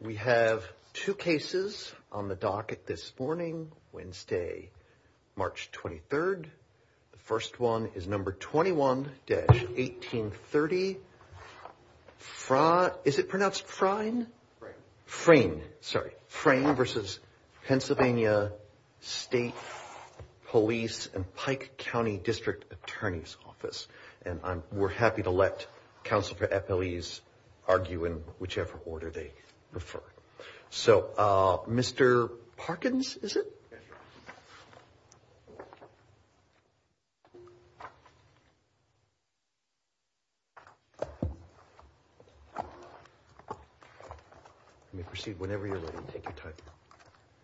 We have two cases on the docket this morning, Wednesday, March 23rd. The first one is number 21-1830 Frain v. PA State Police and Pike County District Attorney's Office. And we're happy to let counsel for FLEs argue in whichever order they prefer. So, Mr. Parkins, is it? Yes, Your Honor. You may proceed whenever you're ready. Take your time.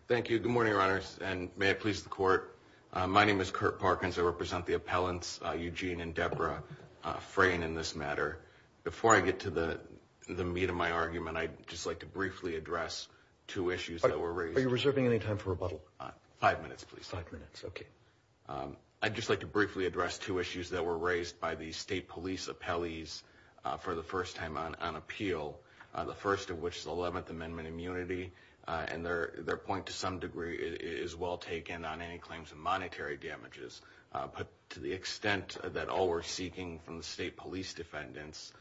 Thank you. Good morning, Your Honor, and may it please the Court. My name is Kurt Parkins. I represent the appellants, Eugene and Deborah Frain, in this matter. Before I get to the meat of my argument, I'd just like to briefly address two issues that were raised. Are you reserving any time for rebuttal? Five minutes, please. Five minutes. Okay. I'd just like to briefly address two issues that were raised by the State Police appellees for the first time on appeal, the first of which is the Eleventh Amendment immunity. And their point, to some degree, is well taken on any claims of monetary damages. But to the extent that all we're seeking from the State Police defendants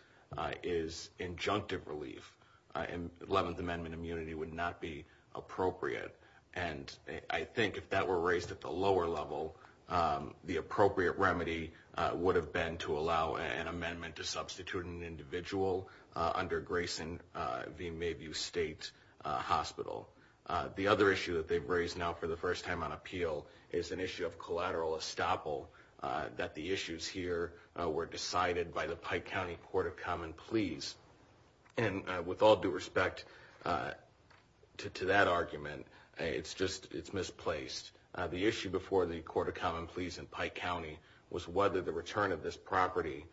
is injunctive relief, and Eleventh Amendment immunity would not be appropriate. And I think if that were raised at the lower level, the appropriate remedy would have been to allow an amendment to substitute an individual under Grayson v. Mayview State Hospital. The other issue that they've raised now for the first time on appeal is an issue of collateral estoppel, that the issues here were decided by the Pike County Court of Common Pleas. And with all due respect to that argument, it's misplaced. The issue before the Court of Common Pleas in Pike County was whether the return of this property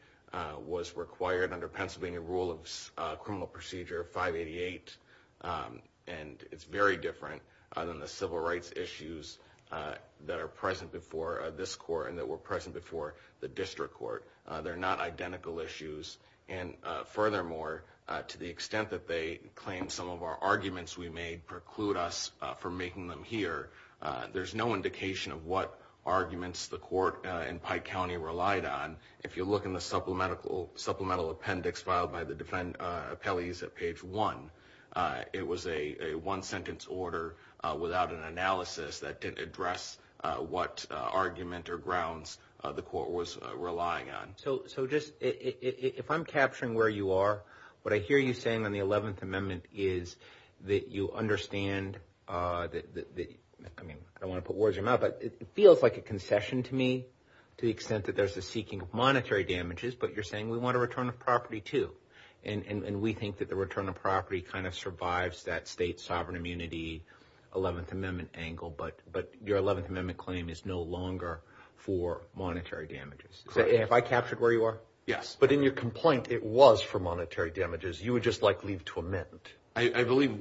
was required under Pennsylvania Rule of Criminal Procedure 588. And it's very different than the civil rights issues that are present before this court and that were present before the district court. They're not identical issues. And furthermore, to the extent that they claim some of our arguments we made preclude us from making them here, there's no indication of what arguments the court in Pike County relied on. If you look in the supplemental appendix filed by the defendant's appellees at page one, it was a one-sentence order without an analysis that didn't address what argument or grounds the court was relying on. So just if I'm capturing where you are, what I hear you saying on the 11th Amendment is that you understand that, I don't want to put words in your mouth, but it feels like a concession to me to the extent that there's a seeking of monetary damages, but you're saying we want a return of property too. And we think that the return of property kind of survives that state sovereign immunity 11th Amendment angle, but your 11th Amendment claim is no longer for monetary damages. If I captured where you are? Yes. But in your complaint, it was for monetary damages. You would just like leave to amend. I believe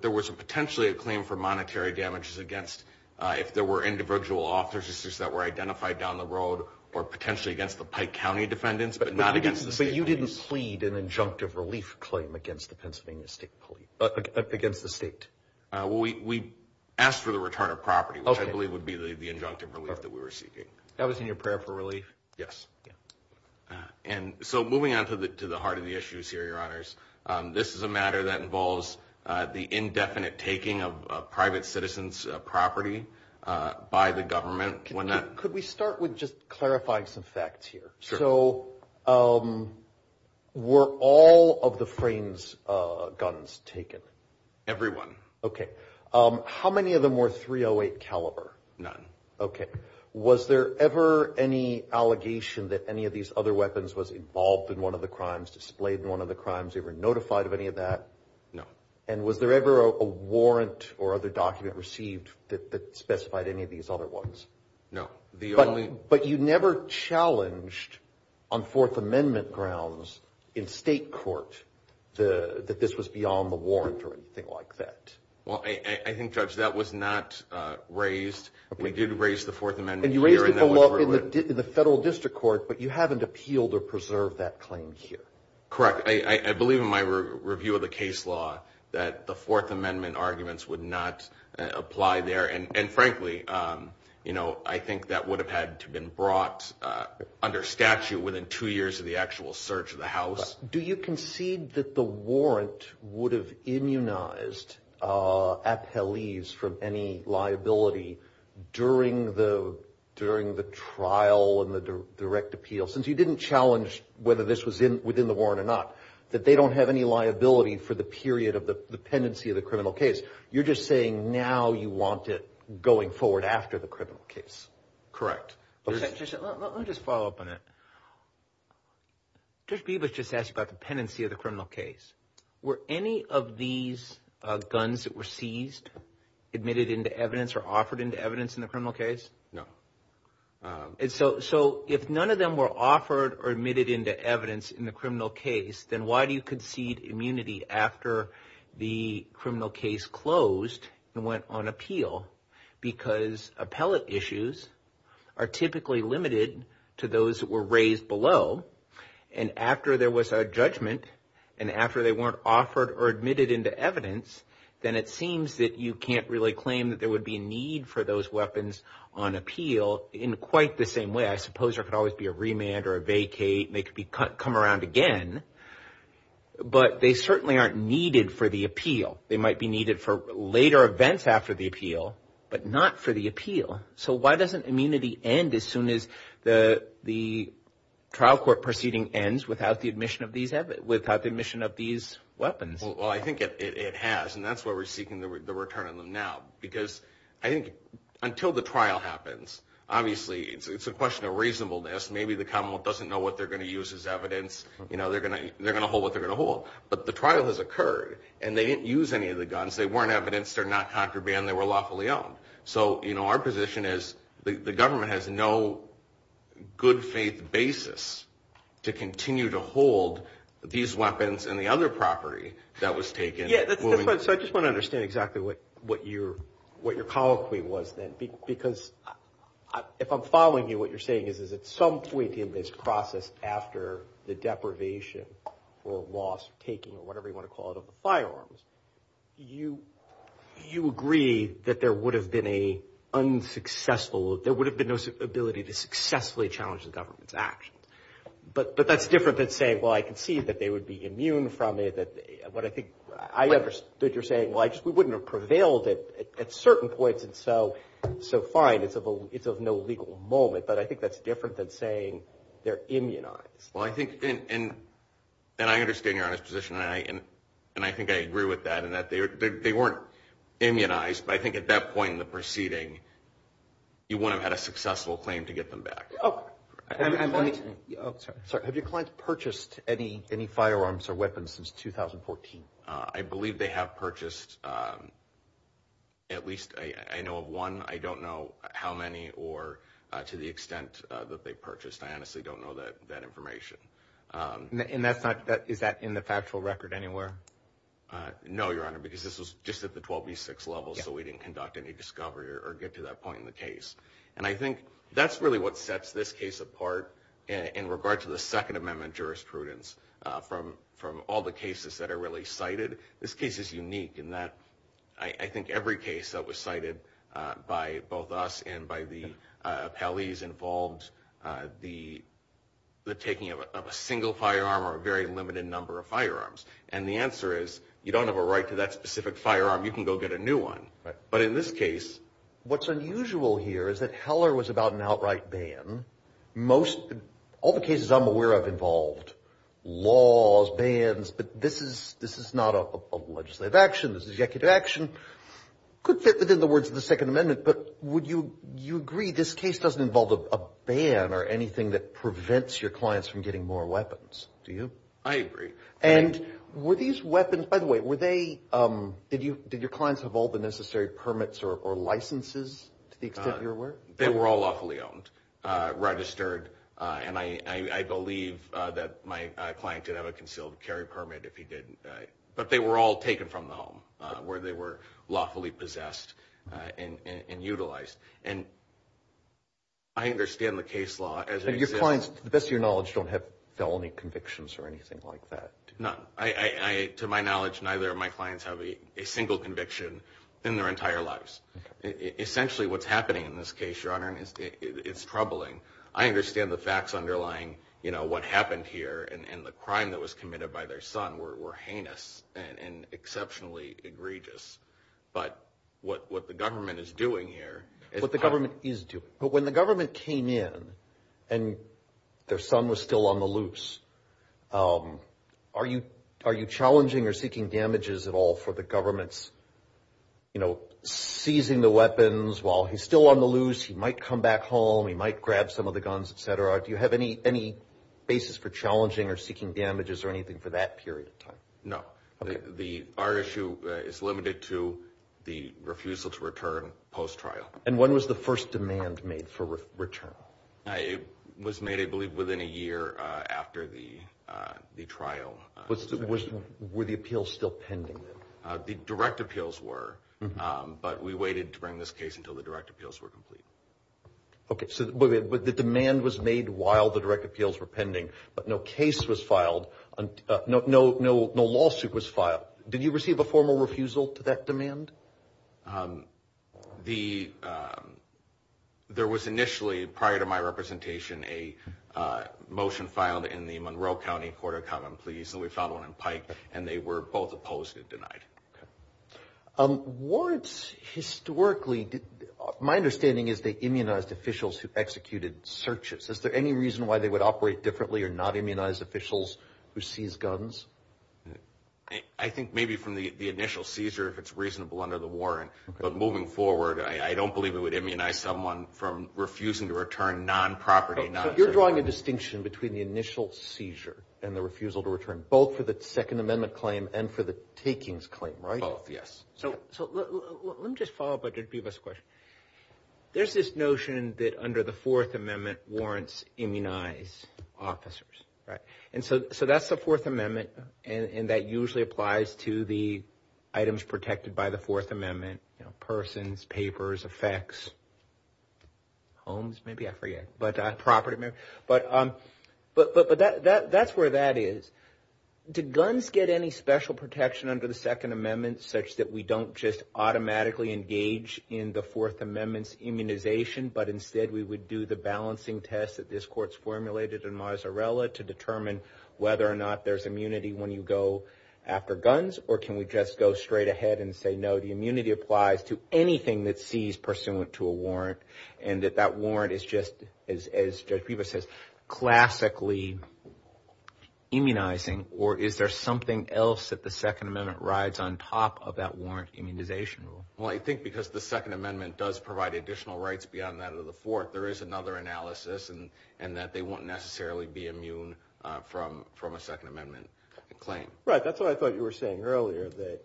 there was potentially a claim for monetary damages against, if there were individual officers that were identified down the road, or potentially against the Pike County defendants, but not against the state. But you didn't plead an injunctive relief claim against the Pennsylvania State Police, against the state. We asked for the return of property, which I believe would be the injunctive relief that we were seeking. That was in your prayer for relief? Yes. And so moving on to the heart of the issues here, Your Honors, this is a matter that involves the indefinite taking of private citizens' property by the government. Could we start with just clarifying some facts here? Sure. So were all of the Frames guns taken? Every one. Okay. How many of them were .308 caliber? None. Okay. Was there ever any allegation that any of these other weapons was involved in one of the crimes, displayed in one of the crimes, ever notified of any of that? No. And was there ever a warrant or other document received that specified any of these other ones? No. But you never challenged on Fourth Amendment grounds in state court that this was beyond the warrant or anything like that? Well, I think, Judge, that was not raised. We did raise the Fourth Amendment here. And you raised it in the federal district court, but you haven't appealed or preserved that claim here. Correct. I believe in my review of the case law that the Fourth Amendment arguments would not apply there. And, frankly, you know, I think that would have had to have been brought under statute within two years of the actual search of the house. Do you concede that the warrant would have immunized appellees from any liability during the trial and the direct appeal? Since you didn't challenge whether this was within the warrant or not, that they don't have any liability for the period of the pendency of the criminal case. You're just saying now you want it going forward after the criminal case. Correct. Let me just follow up on that. Judge Bebas just asked about the pendency of the criminal case. Were any of these guns that were seized admitted into evidence or offered into evidence in the criminal case? No. And so if none of them were offered or admitted into evidence in the criminal case, then why do you concede immunity after the criminal case closed and went on appeal? Because appellate issues are typically limited to those that were raised below. And after there was a judgment and after they weren't offered or admitted into evidence, then it seems that you can't really claim that there would be a need for those weapons on appeal in quite the same way. I suppose there could always be a remand or a vacate and they could come around again. They might be needed for later events after the appeal, but not for the appeal. So why doesn't immunity end as soon as the trial court proceeding ends without the admission of these weapons? Well, I think it has, and that's why we're seeking the return of them now. Because I think until the trial happens, obviously it's a question of reasonableness. Maybe the commonwealth doesn't know what they're going to use as evidence. But the trial has occurred and they didn't use any of the guns. They weren't evidenced. They're not contraband. They were lawfully owned. So our position is the government has no good faith basis to continue to hold these weapons and the other property that was taken. I just want to understand exactly what your colloquy was then. Because if I'm following you, what you're saying is at some point in this process after the deprivation or loss, taking whatever you want to call it of the firearms, you agree that there would have been an unsuccessful – there would have been no ability to successfully challenge the government's actions. But that's different than saying, well, I can see that they would be immune from it. I understand that you're saying, well, we wouldn't have prevailed at certain points and so fine. It's of no legal moment. But I think that's different than saying they're immunized. Well, I think – and I understand your honest position. And I think I agree with that in that they weren't immunized. But I think at that point in the proceeding, you wouldn't have had a successful claim to get them back. Have your clients purchased any firearms or weapons since 2014? I believe they have purchased at least – I know of one. I don't know how many or to the extent that they purchased. I honestly don't know that information. And that's not – is that in the factual record anywhere? No, Your Honor, because this was just at the 12B6 level. So we didn't conduct any discovery or get to that point in the case. And I think that's really what sets this case apart in regards to the Second Amendment jurisprudence from all the cases that are really cited. This case is unique in that I think every case that was cited by both us and by the appellees involved the taking of a single firearm or a very limited number of firearms. And the answer is you don't have a right to that specific firearm. You can go get a new one. But in this case, what's unusual here is that Heller was about an outright ban. Most – all the cases I'm aware of involved laws, bans, but this is not a legislative action. This is executive action. Could fit within the words of the Second Amendment, but would you agree this case doesn't involve a ban or anything that prevents your clients from getting more weapons? Do you? I agree. And were these weapons – by the way, were they – did your clients have all the necessary permits or licenses to the extent you're aware? They were all lawfully owned, registered, and I believe that my client did have a concealed carry permit if he did. But they were all taken from the home where they were lawfully possessed and utilized. And I understand the case law as – So your clients, to the best of your knowledge, don't have felony convictions or anything like that? None. I – to my knowledge, neither of my clients have a single conviction in their entire lives. Essentially what's happening in this case, Your Honor, is troubling. I understand the facts underlying, you know, what happened here and the crime that was committed by their son were heinous and exceptionally egregious. But what the government is doing here – But when the government came in and their son was still on the loose, are you challenging or seeking damages at all for the government's, you know, seizing the weapons while he's still on the loose? He might come back home. He might grab some of the guns, et cetera. Do you have any basis for challenging or seeking damages or anything for that period of time? No. Our issue is limited to the refusal to return post-trial. And when was the first demand made for return? It was made, I believe, within a year after the trial. Were the appeals still pending? The direct appeals were, but we waited to bring this case until the direct appeals were complete. Okay. So the demand was made while the direct appeals were pending, but no case was filed – no lawsuit was filed. Did you receive a formal refusal to that demand? The – there was initially, prior to my representation, a motion filed in the Monroe County Court of Common Pleas, and we found one in Pike, and they were both opposed and denied. Okay. Warrants historically – my understanding is they immunized officials who executed searches. Is there any reason why they would operate differently or not immunize officials who seized guns? I think maybe from the initial seizure, if it's reasonable under the warrant. But moving forward, I don't believe it would immunize someone from refusing to return non-property. So you're drawing a distinction between the initial seizure and the refusal to return, both for the Second Amendment claim and for the takings claim, right? Both, yes. So let me just follow up on Jadbiba's question. There's this notion that under the Fourth Amendment, warrants immunize officers, right? And so that's the Fourth Amendment, and that usually applies to the items protected by the Fourth Amendment – persons, papers, effects, homes – maybe I forget – but property. But that's where that is. Did guns get any special protection under the Second Amendment such that we don't just automatically engage in the Fourth Amendment's immunization, but instead we would do the balancing test that this court's formulated in Mazzarella to determine whether or not there's immunity when you go after guns? Or can we just go straight ahead and say, no, the immunity applies to anything that's seized pursuant to a warrant, and that that warrant is just, as Jadbiba says, classically immunizing? Or is there something else that the Second Amendment rides on top of that warrant immunization? Well, I think because the Second Amendment does provide additional rights beyond that of the Fourth, there is another analysis in that they won't necessarily be immune from a Second Amendment claim. Right, that's what I thought you were saying earlier, that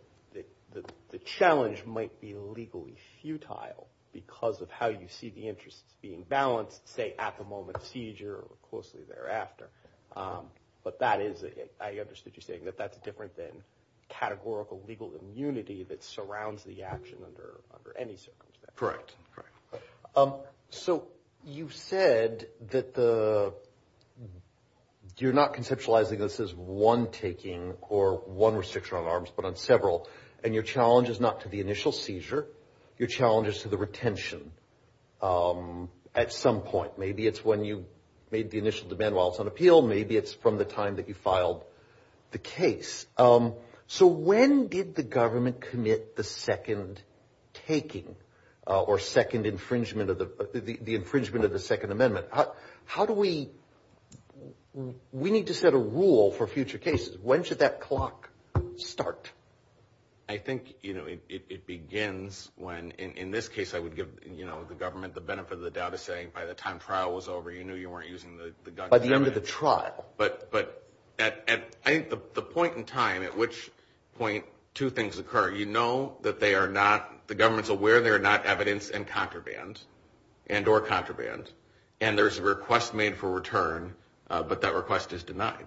the challenge might be legally futile because of how you see the interests being balanced, say, at the moment of seizure or closely thereafter. But I understood you saying that that's different than categorical legal immunity that surrounds the action under any circumstance. Correct. So you said that you're not conceptualizing this as one taking or one restriction on arms, but on several, and your challenge is not to the initial seizure. Your challenge is to the retention at some point. Maybe it's when you made the initial demand while it's on appeal. Maybe it's from the time that you filed the case. So when did the government commit the second taking or the infringement of the Second Amendment? How do we – we need to set a rule for future cases. When should that clock start? I think it begins when – in this case, I would give the government the benefit of the doubt of saying, by the time trial was over, you knew you weren't using the gun. By the end of the trial. But I think the point in time at which two things occur, you know that they are not – the government is aware they are not evidence and contraband and or contraband, and there's a request made for return, but that request is denied.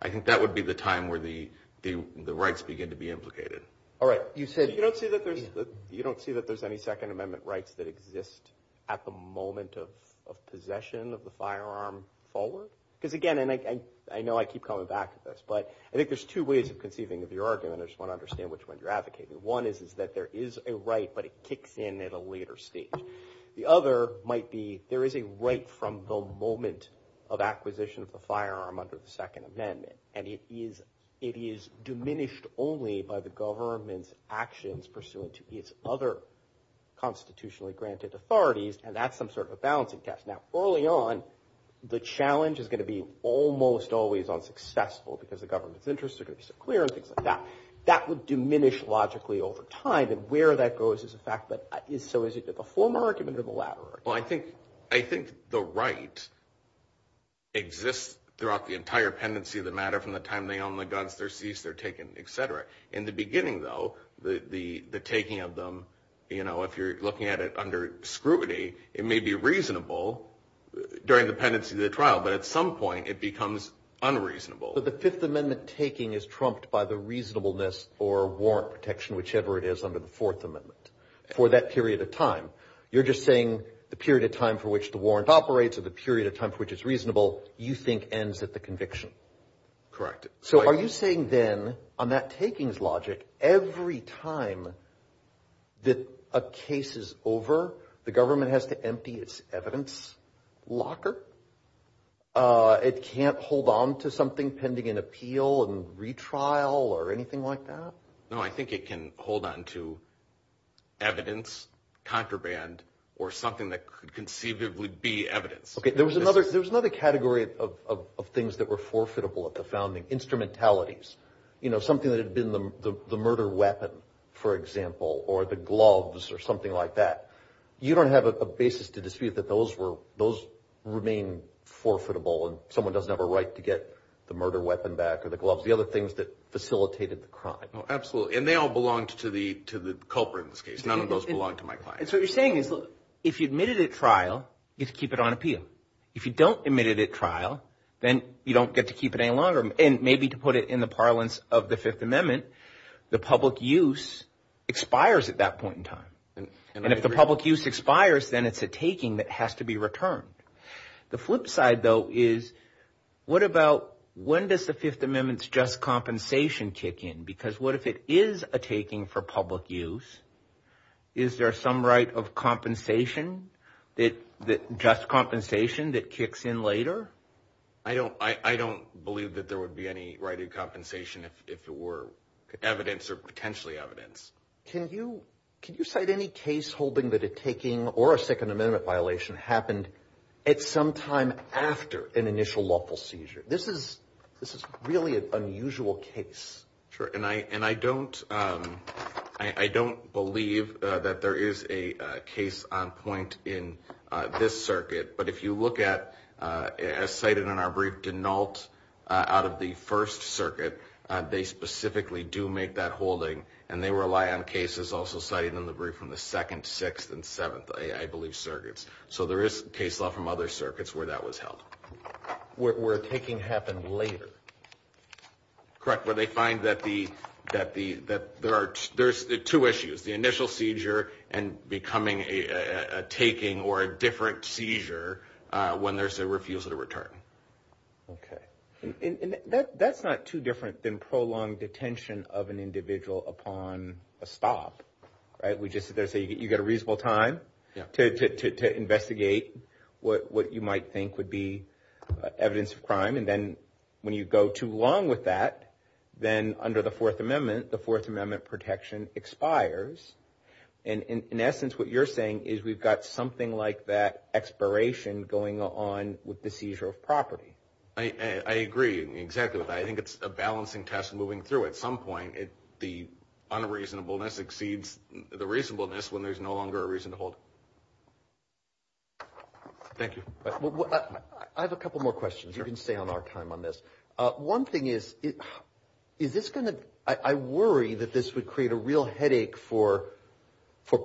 I think that would be the time where the rights begin to be implicated. All right. You said – You don't see that there's any Second Amendment rights that exist at the moment of possession of the firearm forward? Because again, and I know I keep coming back to this, but I think there's two ways of conceiving of the argument. I just want to understand which one you're advocating. One is that there is a right, but it kicks in at a later stage. The other might be there is a right from the moment of acquisition of the firearm under the Second Amendment, and it is diminished only by the government's actions pursuant to its other constitutionally-granted authorities, and that's some sort of a balancing test. Now, early on, the challenge is going to be almost always unsuccessful because the government's interests are going to be so clear and things like that. That would diminish logically over time, and where that goes is the fact that – So is it the former argument or the latter? Well, I think the right exists throughout the entire pendency of the matter from the time they own the guns, they're seized, they're taken, et cetera. In the beginning, though, the taking of them, if you're looking at it under scrutiny, it may be reasonable during the pendency of the trial, but at some point it becomes unreasonable. So the Fifth Amendment taking is trumped by the reasonableness for warrant protection, whichever it is under the Fourth Amendment, for that period of time. You're just saying the period of time for which the warrant operates or the period of time for which it's reasonable you think ends at the conviction. Correct. So are you saying then, on that takings logic, every time that a case is over, the government has to empty its evidence locker? It can't hold on to something pending an appeal and retrial or anything like that? No, I think it can hold on to evidence, contraband, or something that could conceivably be evidence. There was another category of things that were forfeitable at the founding, instrumentalities. You know, something that had been the murder weapon, for example, or the gloves or something like that. You don't have a basis to dispute that those remain forfeitable and someone doesn't have a right to get the murder weapon back or the gloves, the other things that facilitated the crime. Absolutely. And they all belong to the culprit in this case. None of those belong to my client. So what you're saying is, look, if you admit it at trial, you have to keep it on appeal. If you don't admit it at trial, then you don't get to keep it any longer. And maybe to put it in the parlance of the Fifth Amendment, the public use expires at that point in time. And if the public use expires, then it's a taking that has to be returned. The flip side, though, is what about when does the Fifth Amendment's just compensation kick in? Because what if it is a taking for public use? Is there some right of compensation, just compensation, that kicks in later? I don't believe that there would be any right of compensation if it were evidence or potentially evidence. Can you cite any case holding that a taking or a Second Amendment violation happened at some time after an initial lawful seizure? This is really an unusual case. Sure. And I don't believe that there is a case on point in this circuit. But if you look at, as cited in our brief, denults out of the First Circuit, they specifically do make that holding, and they rely on cases also cited in the brief from the Second, Sixth, and Seventh, I believe, circuits. So there is case law from other circuits where that was held. Where a taking happened later. Correct. Where they find that there are two issues, the initial seizure and becoming a taking or a different seizure when there's a refusal to return. Okay. And that's not too different than prolonged detention of an individual upon a stop. We just say you've got a reasonable time to investigate what you might think would be evidence of crime. And then when you go too long with that, then under the Fourth Amendment, the Fourth Amendment protection expires. And in essence, what you're saying is we've got something like that expiration going on with the seizure of property. I agree. Exactly. I think it's a balancing test moving through. At some point, the unreasonableness exceeds the reasonableness when there's no longer a reason to hold. Thank you. I have a couple more questions. You can stay on our time on this. One thing is, I worry that this would create a real headache for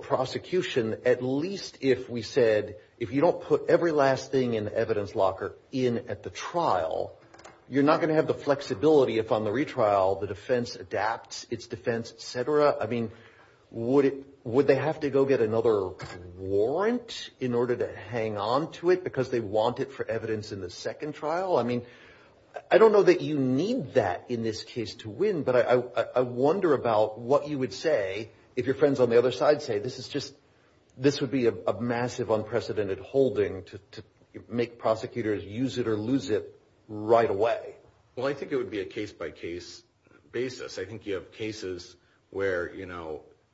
prosecution, at least if we said if you don't put every last thing in the evidence locker in at the trial, you're not going to have the flexibility if on the retrial the defense adapts its defense, et cetera. I mean, would they have to go get another warrant in order to hang on to it because they want it for evidence in the second trial? I mean, I don't know that you need that in this case to win, but I wonder about what you would say if your friends on the other side say this would be a massive, unprecedented holding to make prosecutors use it or lose it right away. Well, I think it would be a case-by-case basis. I think you have cases where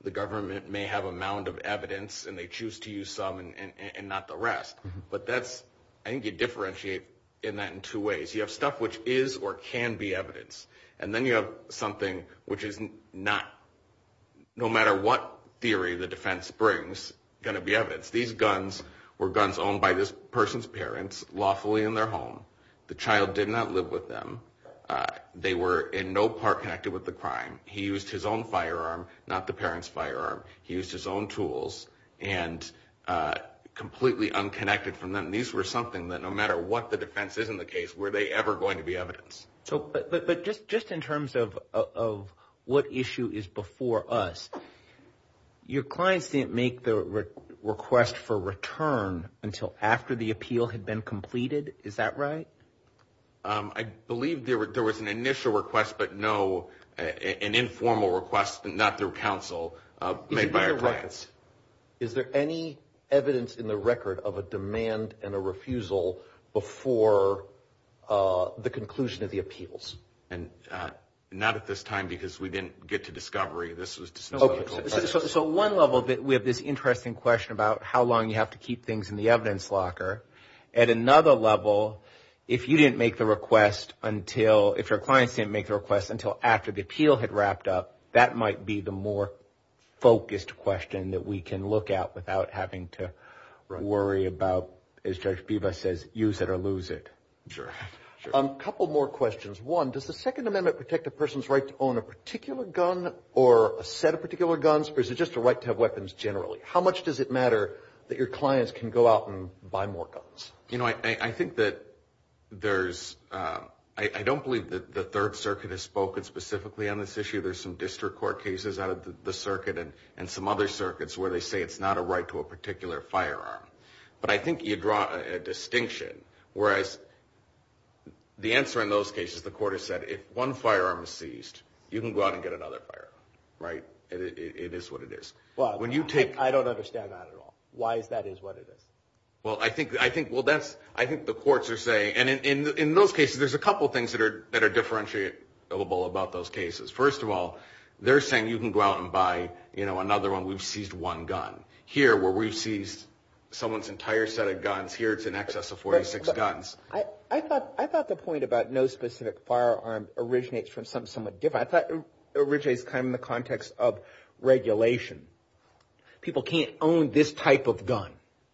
the government may have a mound of evidence and they choose to use some and not the rest. But I think you differentiate in that in two ways. You have stuff which is or can be evidence, and then you have something which is not no matter what theory the defense brings going to be evidence. These guns were guns owned by this person's parents lawfully in their home. The child did not live with them. They were in no part connected with the crime. He used his own firearm, not the parent's firearm. He used his own tools and completely unconnected from them. These were something that no matter what the defense is in the case, were they ever going to be evidence? But just in terms of what issue is before us, your clients didn't make the request for return until after the appeal had been completed. Is that right? I believe there was an initial request, but no, an informal request, not through counsel. Is there any evidence in the record of a demand and a refusal before the conclusion of the appeals? Not at this time because we didn't get to discovery. So one level, we have this interesting question about how long you have to keep things in the evidence locker. At another level, if you didn't make the request until, if your clients didn't make the request until after the appeal had wrapped up, that might be the more focused question that we can look at without having to worry about, as Judge Biva says, use it or lose it. Sure. A couple more questions. One, does the Second Amendment protect a person's right to own a particular gun or a set of particular guns, or is it just a right to have weapons generally? How much does it matter that your clients can go out and buy more guns? You know, I think that there's, I don't believe that the Third Circuit has spoken specifically on this issue. There's some district court cases out of the circuit and some other circuits where they say it's not a right to a particular firearm. But I think you draw a distinction, whereas the answer in those cases, the court has said, if one firearm is seized, you can go out and get another firearm, right? It is what it is. I don't understand that at all. Why is that is what it is? Well, I think the courts are saying, and in those cases, there's a couple things that are differentiable about those cases. First of all, they're saying you can go out and buy, you know, another one, we've seized one gun. Here, where we've seized someone's entire set of guns, here it's in excess of 46 guns. I thought the point about no specific firearm originates from something somewhat different. I thought it originates kind of in the context of regulation. People can't own this type of gun,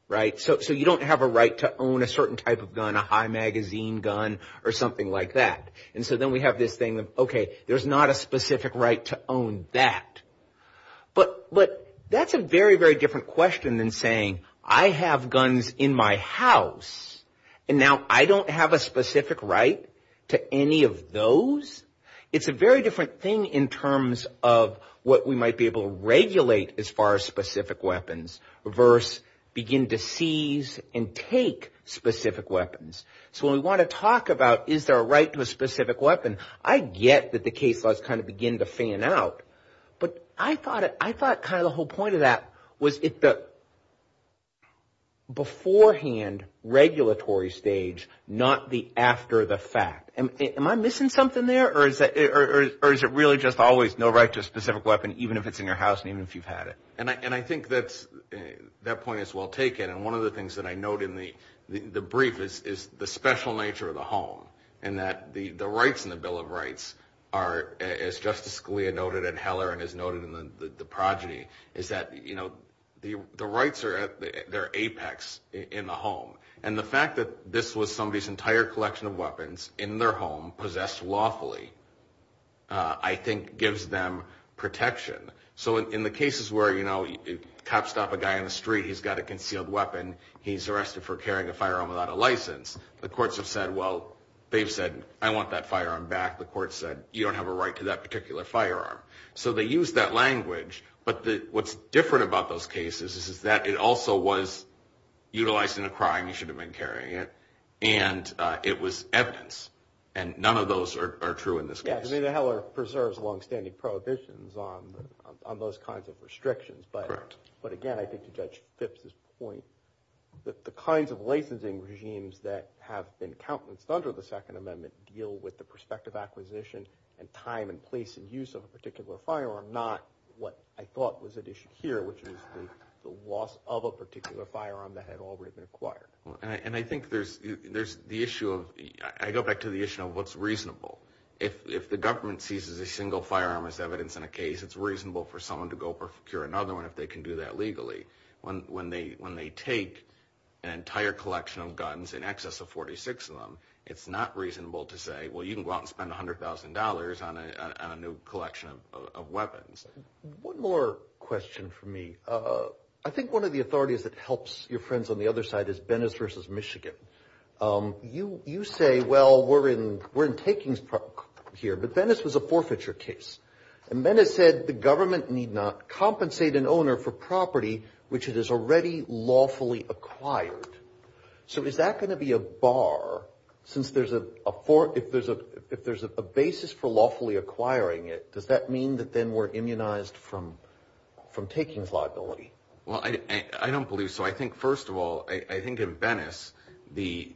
right? So you don't have a right to own a certain type of gun, a high-magazine gun or something like that. And so then we have this thing of, okay, there's not a specific right to own that. But that's a very, very different question than saying, I have guns in my house, and now I don't have a specific right to any of those. It's a very different thing in terms of what we might be able to regulate as far as specific weapons versus begin to seize and take specific weapons. So when we want to talk about is there a right to a specific weapon, I get that the case laws kind of begin to fan out. But I thought kind of the whole point of that was at the beforehand regulatory stage, not the after the fact. Am I missing something there, or is it really just always no right to a specific weapon, even if it's in your house and even if you've had it? And I think that that point is well taken. And one of the things that I note in the brief is the special nature of the home and that the rights in the Bill of Rights are, as Justice Scalia noted and Heller has noted and the progeny, is that the rights are at their apex in the home. And the fact that this was somebody's entire collection of weapons in their home, possessed lawfully, I think gives them protection. So in the cases where, you know, cops stop a guy on the street, he's got a concealed weapon, he's arrested for carrying a firearm without a license. The courts have said, well, they've said, I want that firearm back. The court said, you don't have a right to that particular firearm. So they use that language. But what's different about those cases is that it also was utilized in a crime, you should have been carrying it, and it was evidence. And none of those are true in this case. I mean, Heller preserves longstanding prohibitions on those kinds of restrictions. But, again, I think Judge Phipps's point that the kinds of licensing regimes that have been countless under the Second Amendment deal with the prospective acquisition and time and place and use of a particular firearm, not what I thought was at issue here, which is the loss of a particular firearm that had already been acquired. And I think there's the issue of, I go back to the issue of what's reasonable. If the government seizes a single firearm as evidence in a case, it's reasonable for someone to go procure another one if they can do that legally. When they take an entire collection of guns, in excess of 46 of them, it's not reasonable to say, well, you can go out and spend $100,000 on a new collection of weapons. One more question for me. I think one of the authorities that helps your friends on the other side is Venice v. Michigan. You say, well, we're in takings here, but Venice was a forfeiture case. And then it said the government need not compensate an owner for property which it has already lawfully acquired. So is that going to be a bar since if there's a basis for lawfully acquiring it, does that mean that then we're immunized from takings liability? Well, I don't believe so. I think, first of all, I think in Venice the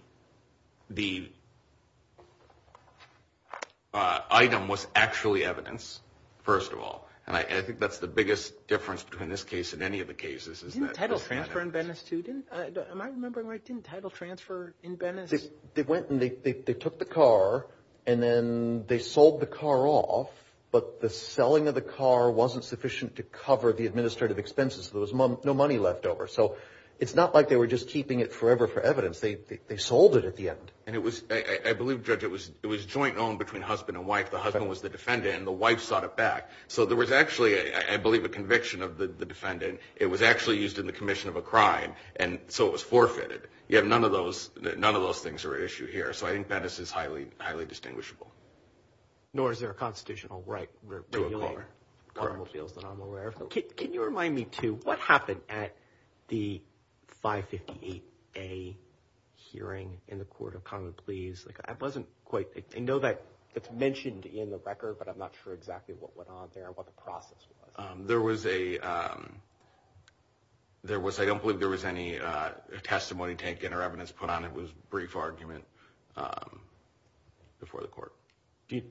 item was actually evidence, first of all. And I think that's the biggest difference between this case and any of the cases. Didn't title transfer in Venice too? Am I remembering right? Didn't title transfer in Venice? They went and they took the car and then they sold the car off, but the selling of the car wasn't sufficient to cover the administrative expenses. There was no money left over. So it's not like they were just keeping it forever for evidence. They sold it at the end. I believe, Judge, it was joint-owned between husband and wife. The husband was the defendant and the wife sought it back. So there was actually, I believe, a conviction of the defendant. It was actually used in the commission of a crime, and so it was forfeited. None of those things are issued here. So I think Venice is highly distinguishable. Nor is there a constitutional right to regulate automobiles, but I'm aware of those. Can you remind me, too, what happened at the 558A hearing in the Court of Common Pleas? I know that it's mentioned in the record, but I'm not sure exactly what went on there and what the process was. There was a – I don't believe there was any testimony taken or evidence put on it. It was a brief argument before the court. Do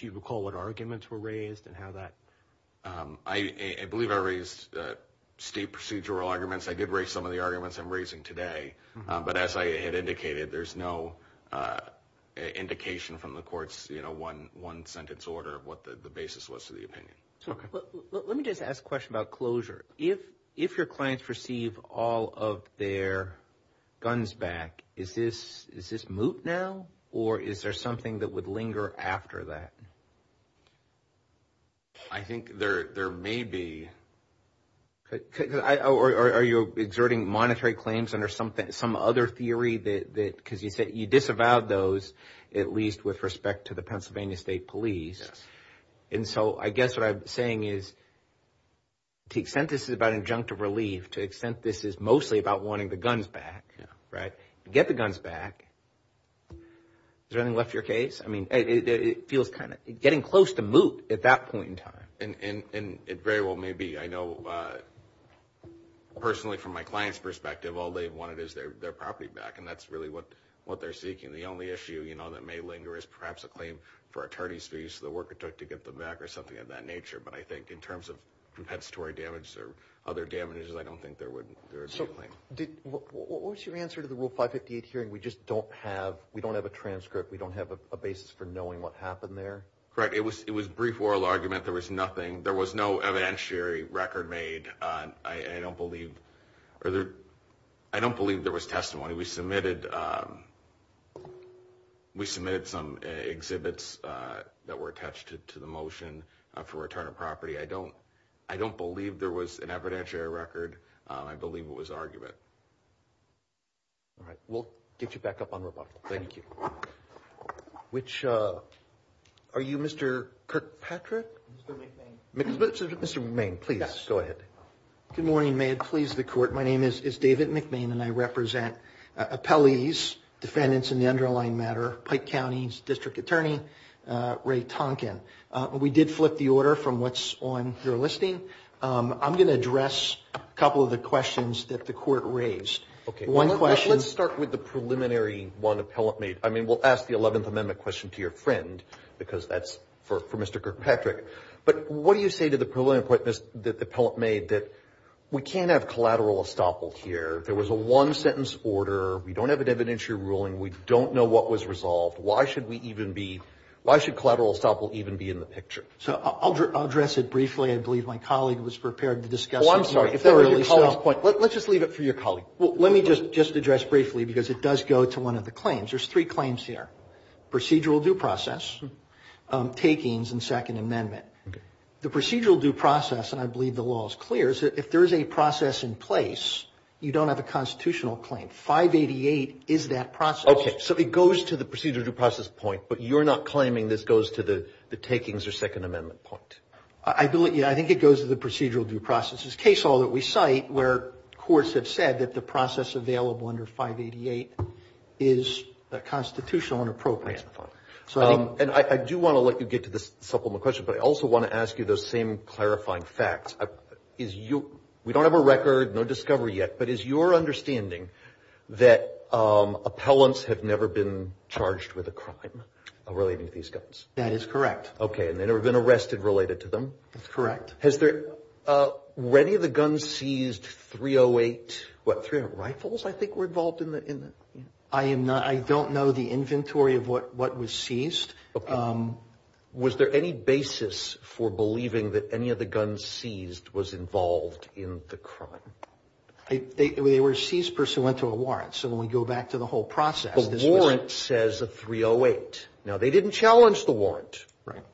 you recall what arguments were raised and how that – I believe I raised state procedural arguments. I did raise some of the arguments I'm raising today. But as I had indicated, there's no indication from the court's one-sentence order what the basis was to the opinion. Let me just ask a question about closure. If your clients receive all of their guns back, is this moot now, or is there something that would linger after that? I think there may be. Are you exerting monetary claims under some other theory that – because you disavowed those, at least with respect to the Pennsylvania State Police. And so I guess what I'm saying is to the extent this is about injunctive relief, to the extent this is mostly about wanting the guns back, get the guns back. Has anyone left your case? I mean, it feels kind of – getting close to moot at that point in time. And it very well may be. I know personally from my client's perspective, all they wanted is their property back, and that's really what they're seeking. The only issue that may linger is perhaps a claim for attorneys to use the work it took to get them back or something of that nature. But I think in terms of compensatory damage or other damages, I don't think there would be a claim. So what was your answer to the Rule 558 hearing? We just don't have – we don't have a transcript. We don't have a basis for knowing what happened there? Correct. It was a brief oral argument. There was nothing. There was no evidentiary record made. I don't believe there was testimony. We submitted some exhibits that were attached to the motion for return of property. I don't believe there was an evidentiary record. I believe it was argument. All right. We'll get you back up on the line. Thank you. Which – are you Mr. Kirkpatrick? Mr. McMahon. Go ahead. Good morning. May it please the Court. My name is David McMahon and I represent appellees, defendants in the underlying matter, Pike County's District Attorney, Ray Tonkin. We did flip the order from what's on your listing. I'm going to address a couple of the questions that the Court raised. Okay. One question. Let's start with the preliminary one appellant made. I mean, we'll ask the 11th Amendment question to your friend because that's for Mr. Kirkpatrick. But what do you say to the preliminary point that the appellant made that we can't have collateral estoppel here? There was a one-sentence order. We don't have an evidentiary ruling. We don't know what was resolved. Why should we even be – why should collateral estoppel even be in the picture? So, I'll address it briefly. I believe my colleague was prepared to discuss it. Oh, I'm sorry. Let's just leave it for your colleague. Let me just address briefly because it does go to one of the claims. There's three claims here. Procedural due process, takings, and Second Amendment. Okay. The procedural due process, and I believe the law is clear, is that if there is a process in place, you don't have a constitutional claim. 588 is that process. Okay. So, it goes to the procedural due process point, but you're not claiming this goes to the takings or Second Amendment point? I think it goes to the procedural due process. It's case law that we cite where courts have said that the process available under 588 is constitutional and appropriate. And I do want to let you get to this supplement question, but I also want to ask you those same clarifying facts. We don't have a record, no discovery yet, but is your understanding that appellants have never been charged with a crime relating to these guys? That is correct. Okay. And they've never been arrested related to them? That's correct. Has any of the guns seized .308, what, rifles I think were involved in it? I don't know the inventory of what was seized. Was there any basis for believing that any of the guns seized was involved in the crime? They were seized pursuant to a warrant. So, when we go back to the whole process. The warrant says a .308. Now, they didn't challenge the warrant.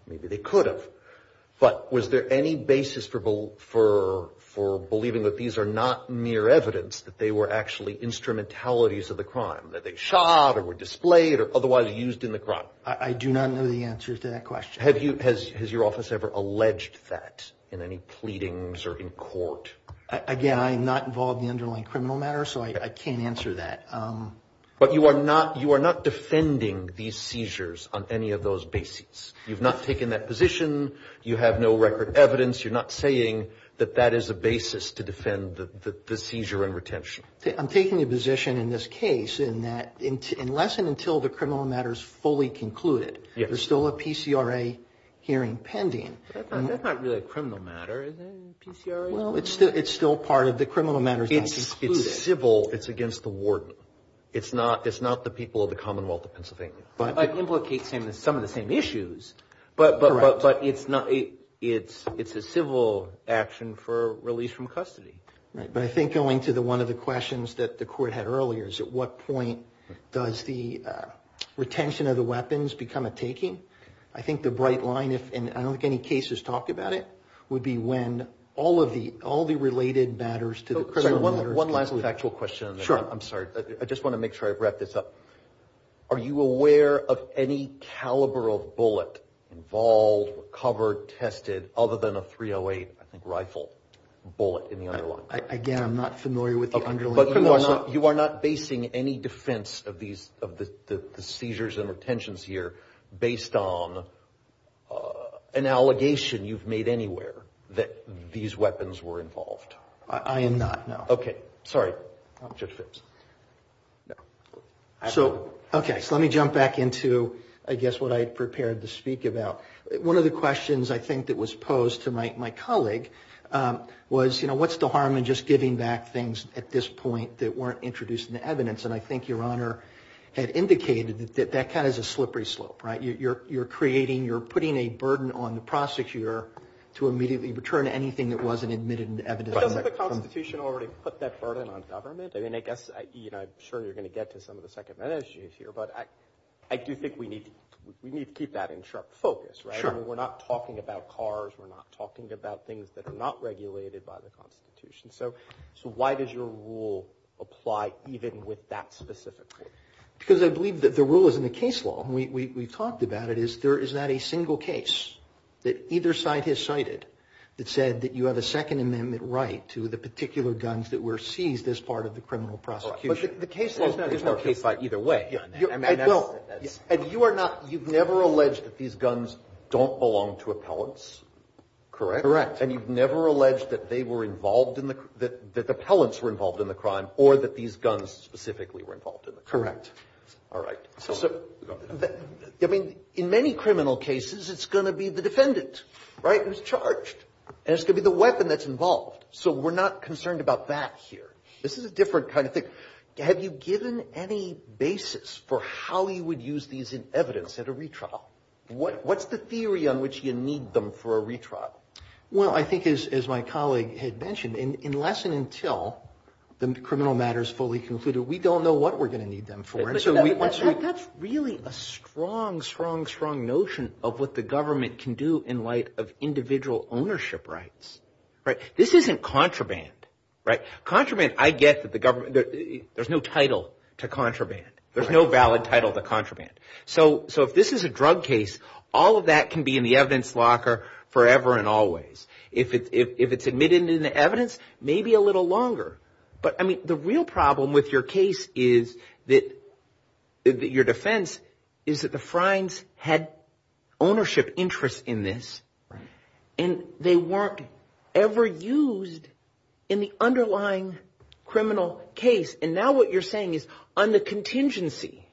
Maybe they could have. But was there any basis for believing that these are not mere evidence that they were actually instrumentalities of the crime? That they shot or were displayed or otherwise used in the crime? I do not know the answers to that question. Has your office ever alleged that in any pleadings or in court? Again, I'm not involved in the underlying criminal matter, so I can't answer that. But you are not defending these seizures on any of those bases. You've not taken that position. You have no record evidence. You're not saying that that is a basis to defend the seizure and retention. I'm taking a position in this case in that unless and until the criminal matter is fully concluded, there's still a PCRA hearing pending. That's not really a criminal matter, is it? Well, it's still part of the criminal matter. It's civil. It's against the warden. It's not the people of the Commonwealth of Pennsylvania. It implicates some of the same issues, but it's a civil action for release from custody. But I think going to one of the questions that the court had earlier is at what point does the retention of the weapons become a taking? I think the bright line, and I don't think any case has talked about it, would be when all the related matters to the criminal matter… One last factual question. Sure. I'm sorry. I just want to make sure I wrap this up. Are you aware of any caliber of bullet involved, covered, tested, other than a .308 rifle bullet in the eye lock? Again, I'm not familiar with the underlying… But you are not basing any defense of the seizures and the tensions here based on an allegation you've made anywhere that these weapons were involved? I am not, no. Okay. Sorry. I'm Judge Phipps. No. Okay. So let me jump back into, I guess, what I prepared to speak about. One of the questions, I think, that was posed to my colleague was, you know, what's the harm in just giving back things at this point that weren't introduced in the evidence? And I think Your Honor had indicated that that kind of is a slippery slope, right? You're creating, you're putting a burden on the prosecutor to immediately return anything that wasn't admitted into evidence. Doesn't the Constitution already put that burden on government? I mean, I guess, you know, I'm sure you're going to get to some of the secondment issues here, but I do think we need to keep that in sharp focus, right? Sure. I mean, we're not talking about cars. We're not talking about things that are not regulated by the Constitution. So why does your rule apply even with that specifically? Because I believe that the rule is in the case law. We talked about it. Is there, is that a single case that either side has cited that said that you have a Second Amendment right to the particular guns that were seized as part of the criminal prosecution? The case law is not a case by either way. And you are not, you've never alleged that these guns don't belong to appellants, correct? Correct. And you've never alleged that they were involved in the, that the appellants were involved in the crime or that these guns specifically were involved in the crime? Correct. All right. So, I mean, in many criminal cases, it's going to be the defendant, right, who's charged. And it's going to be the weapon that's involved. So we're not concerned about that here. This is a different kind of thing. Have you given any basis for how you would use these in evidence at a retrial? What's the theory on which you need them for a retrial? Well, I think as my colleague had mentioned, unless and until the criminal matter is fully concluded, we don't know what we're going to need them for. That's really a strong, strong, strong notion of what the government can do in light of individual ownership rights, right? This isn't contraband, right? Contraband, I guess, there's no title to contraband. There's no valid title to contraband. So if this is a drug case, all of that can be in the evidence locker forever and always. If it's admitted in the evidence, maybe a little longer. But, I mean, the real problem with your case is that your defense is that the Friends had ownership interests in this, and they weren't ever used in the underlying criminal case. And now what you're saying is on the contingency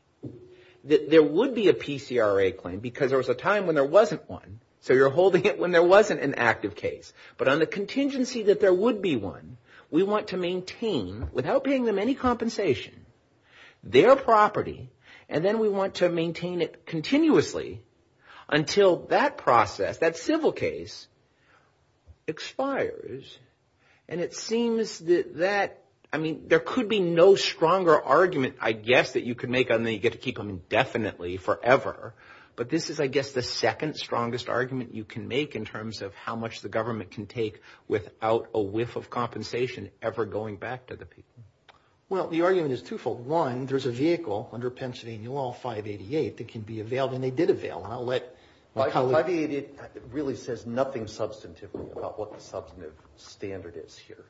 that there would be a PCRA claim, because there was a time when there wasn't one, so you're holding it when there wasn't an active case. But on the contingency that there would be one, we want to maintain, without paying them any compensation, their property, and then we want to maintain it continuously until that process, that civil case, expires. And it seems that, I mean, there could be no stronger argument, I guess, that you could make, and then you get to keep them indefinitely forever. But this is, I guess, the second strongest argument you can make in terms of how much the government can take without a whiff of compensation ever going back to the people. Well, the argument is twofold. One, there's a vehicle under Pension Anewal 588 that can be availed, and they did avail. And I'll let... 588 really says nothing substantive about what the substantive standard is here.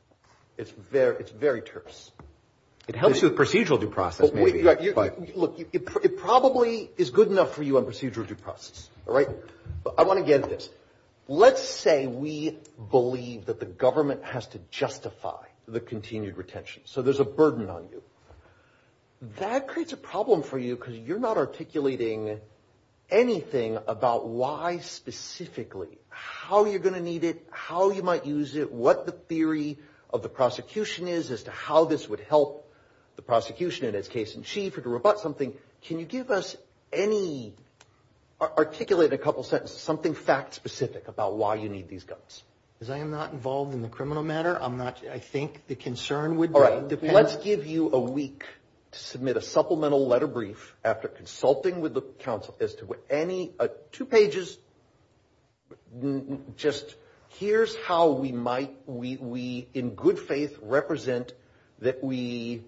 It's very terse. It helps with procedural due process, maybe. Look, it probably is good enough for you on procedural due process, all right? But I want to get at this. Let's say we believe that the government has to justify the continued retention, so there's a burden on you. That creates a problem for you because you're not articulating anything about why specifically, how you're going to need it, how you might use it, what the theory of the prosecution is as to how this would help the prosecution in its case in chief, or to rebut something. Can you give us any, articulate a couple sentences, something fact-specific about why you need these guns? Because I am not involved in the criminal matter. I think the concern would be... All right. Let's give you a week to submit a supplemental letter brief after consulting with the counsel as to what any... Just here's how we might, in good faith, represent that we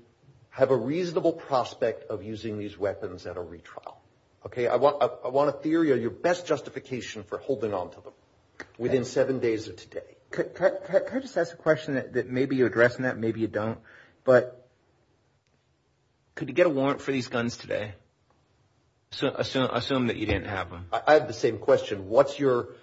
have a reasonable prospect of using these weapons at a retrial. Okay? I want a theory of your best justification for holding on to them within seven days of today. Can I just ask a question that maybe you're addressing that, maybe you don't? But could you get a warrant for these guns today? Assume that you didn't have them. I have the same question. What's your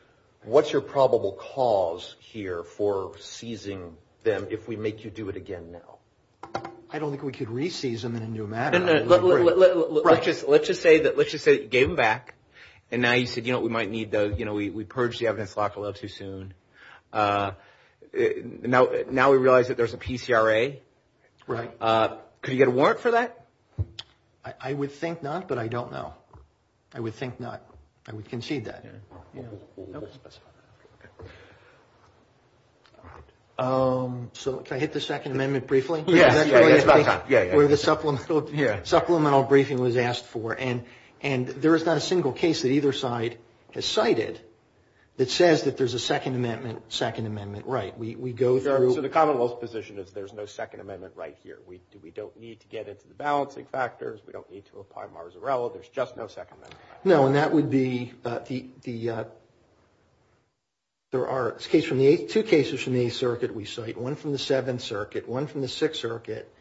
probable cause here for seizing them if we make you do it again now? I don't think we could re-seize them in a new manner. Let's just say that you gave them back, and now you said, you know what, we might need those. We purged the evidence a little too soon. Now we realize that there's a PCRA. Right. Could you get a warrant for that? I would think not, but I don't know. I would think not. I would concede that. So can I hit the Second Amendment briefly? Yeah. Where the supplemental briefing was asked for. And there is not a single case that either side has cited that says that there's a Second Amendment, Second Amendment. Right. So the Commonwealth's position is there's no Second Amendment right here. We don't need to get into the balancing factors. We don't need to apply marzarella. There's just no Second Amendment. No, and that would be the – there are two cases from the Eighth Circuit we cite, one from the Seventh Circuit, one from the Sixth Circuit,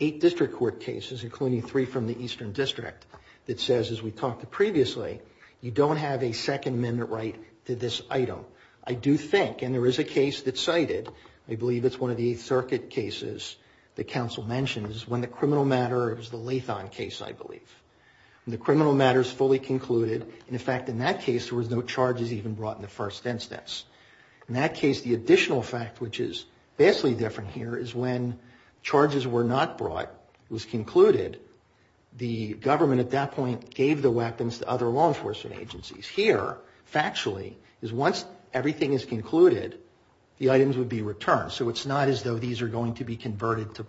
eight district court cases including three from the Eastern District that says, as we've talked to previously, you don't have a Second Amendment right to this item. I do think, and there is a case that cited, I believe it's one of the Eighth Circuit cases, that counsel mentioned is when the criminal matter, it was the Latham case, I believe. When the criminal matter is fully concluded, in fact, in that case, there was no charges even brought in the first instance. In that case, the additional fact, which is vastly different here, is when charges were not brought, was concluded, the government at that point gave the weapons to other law enforcement agencies. Here, factually, is once everything is concluded, the items would be returned. So it's not as though these are going to be converted to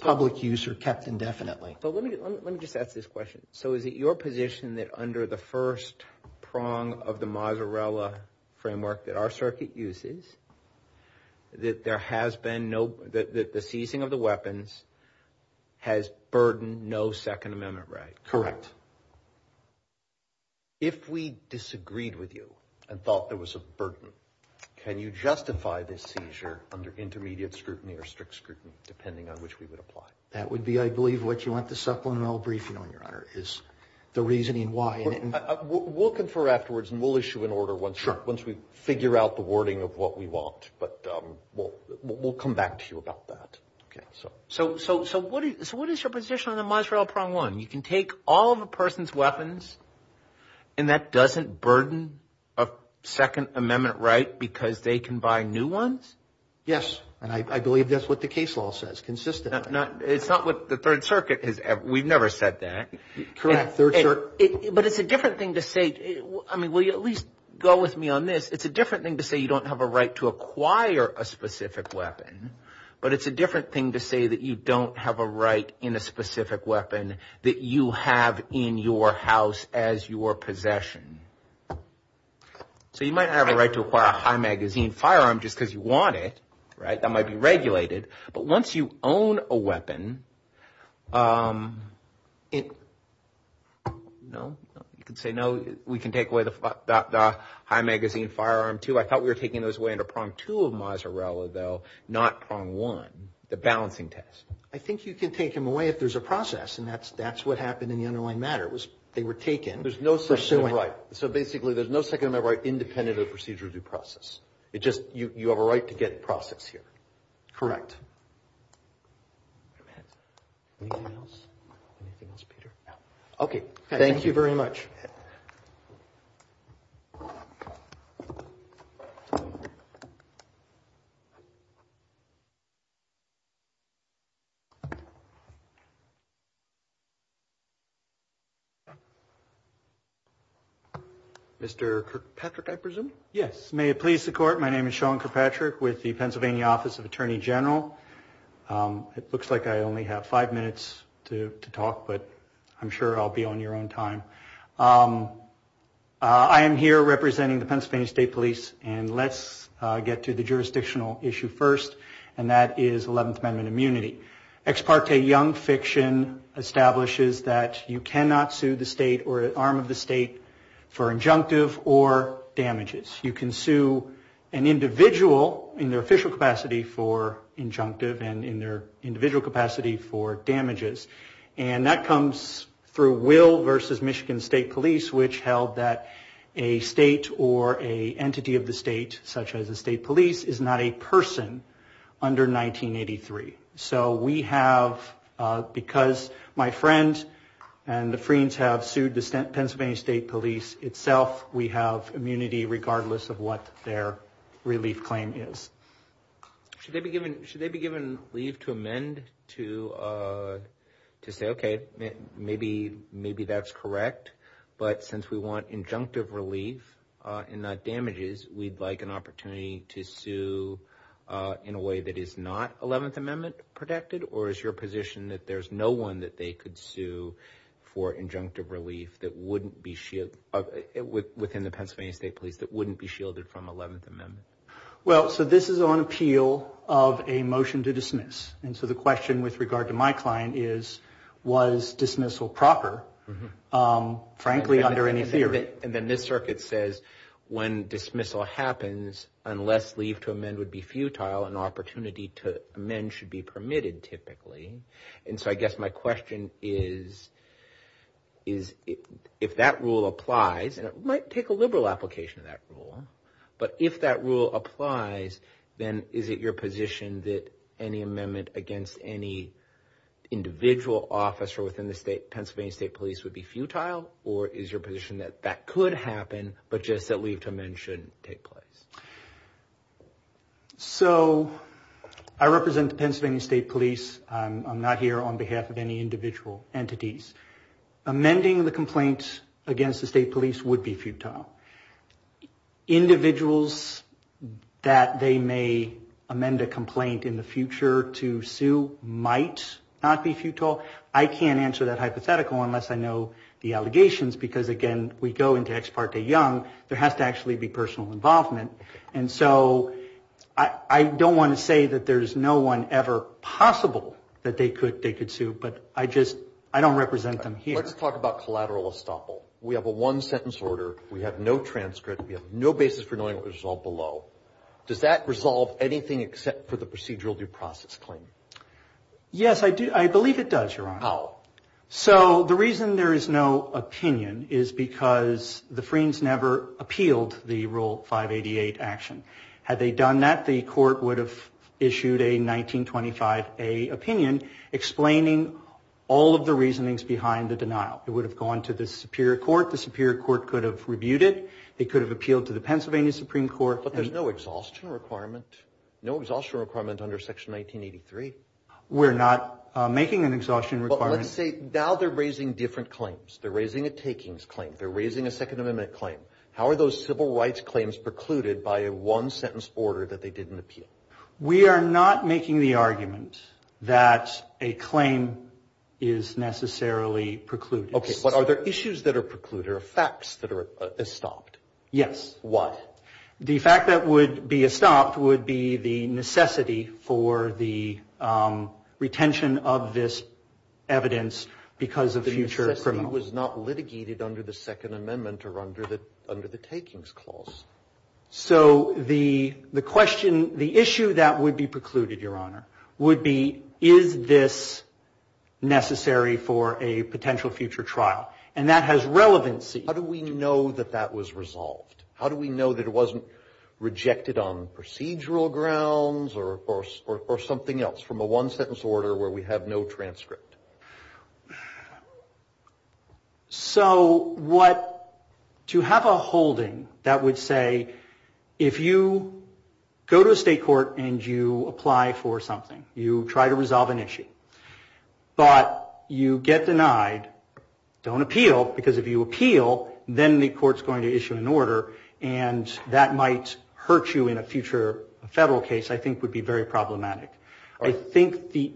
public use or kept indefinitely. So let me just ask this question. So is it your position that under the first prong of the Mazzarella framework that our circuit uses, that there has been no – that the ceasing of the weapons has burdened no Second Amendment right? Correct. If we disagreed with you and thought there was a burden, can you justify this seizure under intermediate scrutiny or strict scrutiny, depending on which we would apply? That would be, I believe, what you want the supplemental briefing on, Your Honor, is the reasoning why. We'll confer afterwards and we'll issue an order once we figure out the wording of what we want. But we'll come back to you about that. Okay. So what is your position on the Mazzarella prong one? You can take all of a person's weapons and that doesn't burden a Second Amendment right because they can buy new ones? Yes. And I believe that's what the case law says, consistent. It's not what the Third Circuit has – we've never said that. But it's a different thing to say – I mean, will you at least go with me on this? It's a different thing to say you don't have a right to acquire a specific weapon, but it's a different thing to say that you don't have a right in a specific weapon that you have in your house as your possession. So you might have a right to acquire a high-magazine firearm just because you want it, right? That might be regulated. But once you own a weapon, you can say, no, we can take away the high-magazine firearm too. I thought we were taking those away under prong two of Mazzarella, though, not prong one, the balancing test. I think you can take them away if there's a process, and that's what happened in the underlying matter. They were taken. There's no Second Amendment right. So basically, there's no Second Amendment right independent of the procedure of the process. It's just you have a right to get the process here. Correct. Anything else? Anything else, Peter? No. Okay. Thank you very much. Mr. Kirkpatrick, I presume? Yes. May it please the Court, my name is Sean Kirkpatrick with the Pennsylvania Office of Attorney General. It looks like I only have five minutes to talk, but I'm sure I'll be on your own time. I am here representing the Pennsylvania State Police, and let's get to the jurisdictional issue first, and that is 11th Amendment immunity. Ex parte young fiction establishes that you cannot sue the state or an arm of the state for injunctive or damages. You can sue an individual in their official capacity for injunctive and in their individual capacity for damages, and that comes through Will versus Michigan State Police, which held that a state or an entity of the state, such as a state police, is not a person under 1983. So we have, because my friends and the Freem's have sued the Pennsylvania State Police itself, we have immunity regardless of what their relief claim is. Should they be given leave to amend to say, okay, maybe that's correct, but since we want injunctive relief and not damages, we'd like an opportunity to sue in a way that is not 11th Amendment protected, or is your position that there's no one that they could sue for injunctive relief within the Pennsylvania State Police that wouldn't be shielded from 11th Amendment? Well, so this is on appeal of a motion to dismiss, and so the question with regard to my client is, was dismissal proper, frankly, under any theory? And the Mid-Circuit says when dismissal happens, unless leave to amend would be futile, an opportunity to amend should be permitted, typically. And so I guess my question is, if that rule applies, and it might take a liberal application of that rule, but if that rule applies, then is it your position that any amendment against any individual officer within the Pennsylvania State Police would be futile, or is your position that that could happen, but just that leave to amend shouldn't take place? So I represent the Pennsylvania State Police. I'm not here on behalf of any individual entities. Amending the complaints against the State Police would be futile. Individuals that they may amend a complaint in the future to sue might not be futile. I can't answer that hypothetical unless I know the allegations, because, again, we go into Ex Parte Young. There has to actually be personal involvement. And so I don't want to say that there's no one ever possible that they could sue, but I just don't represent them here. Let's talk about collateral estoppel. We have a one-sentence order. We have no transcript. We have no basis for knowing what was resolved below. Does that resolve anything except for the procedural due process claim? Yes, I believe it does, Your Honor. How? So the reason there is no opinion is because the Freens never appealed the Rule 588 action. Had they done that, the court would have issued a 1925A opinion explaining all of the reasonings behind the denial. It would have gone to the Superior Court. The Superior Court could have reviewed it. It could have appealed to the Pennsylvania Supreme Court. But there's no exhaustion requirement. No exhaustion requirement under Section 1983. We're not making an exhaustion requirement. But let's say now they're raising different claims. They're raising a takings claim. They're raising a Second Amendment claim. How are those civil rights claims precluded by a one-sentence order that they didn't appeal? We are not making the argument that a claim is necessarily precluded. Okay, but are there issues that are precluded or facts that are estopped? Yes. What? The fact that would be estopped would be the necessity for the retention of this evidence because of the future criminal. The necessity was not litigated under the Second Amendment or under the takings clause. So the question, the issue that would be precluded, Your Honor, would be is this necessary for a potential future trial? And that has relevancy. How do we know that that was resolved? How do we know that it wasn't rejected on procedural grounds or something else from a one-sentence order where we have no transcript? So to have a holding, that would say if you go to a state court and you apply for something, you try to resolve an issue, but you get denied, don't appeal because if you appeal, then the court is going to issue an order and that might hurt you in a future federal case I think would be very problematic. I think the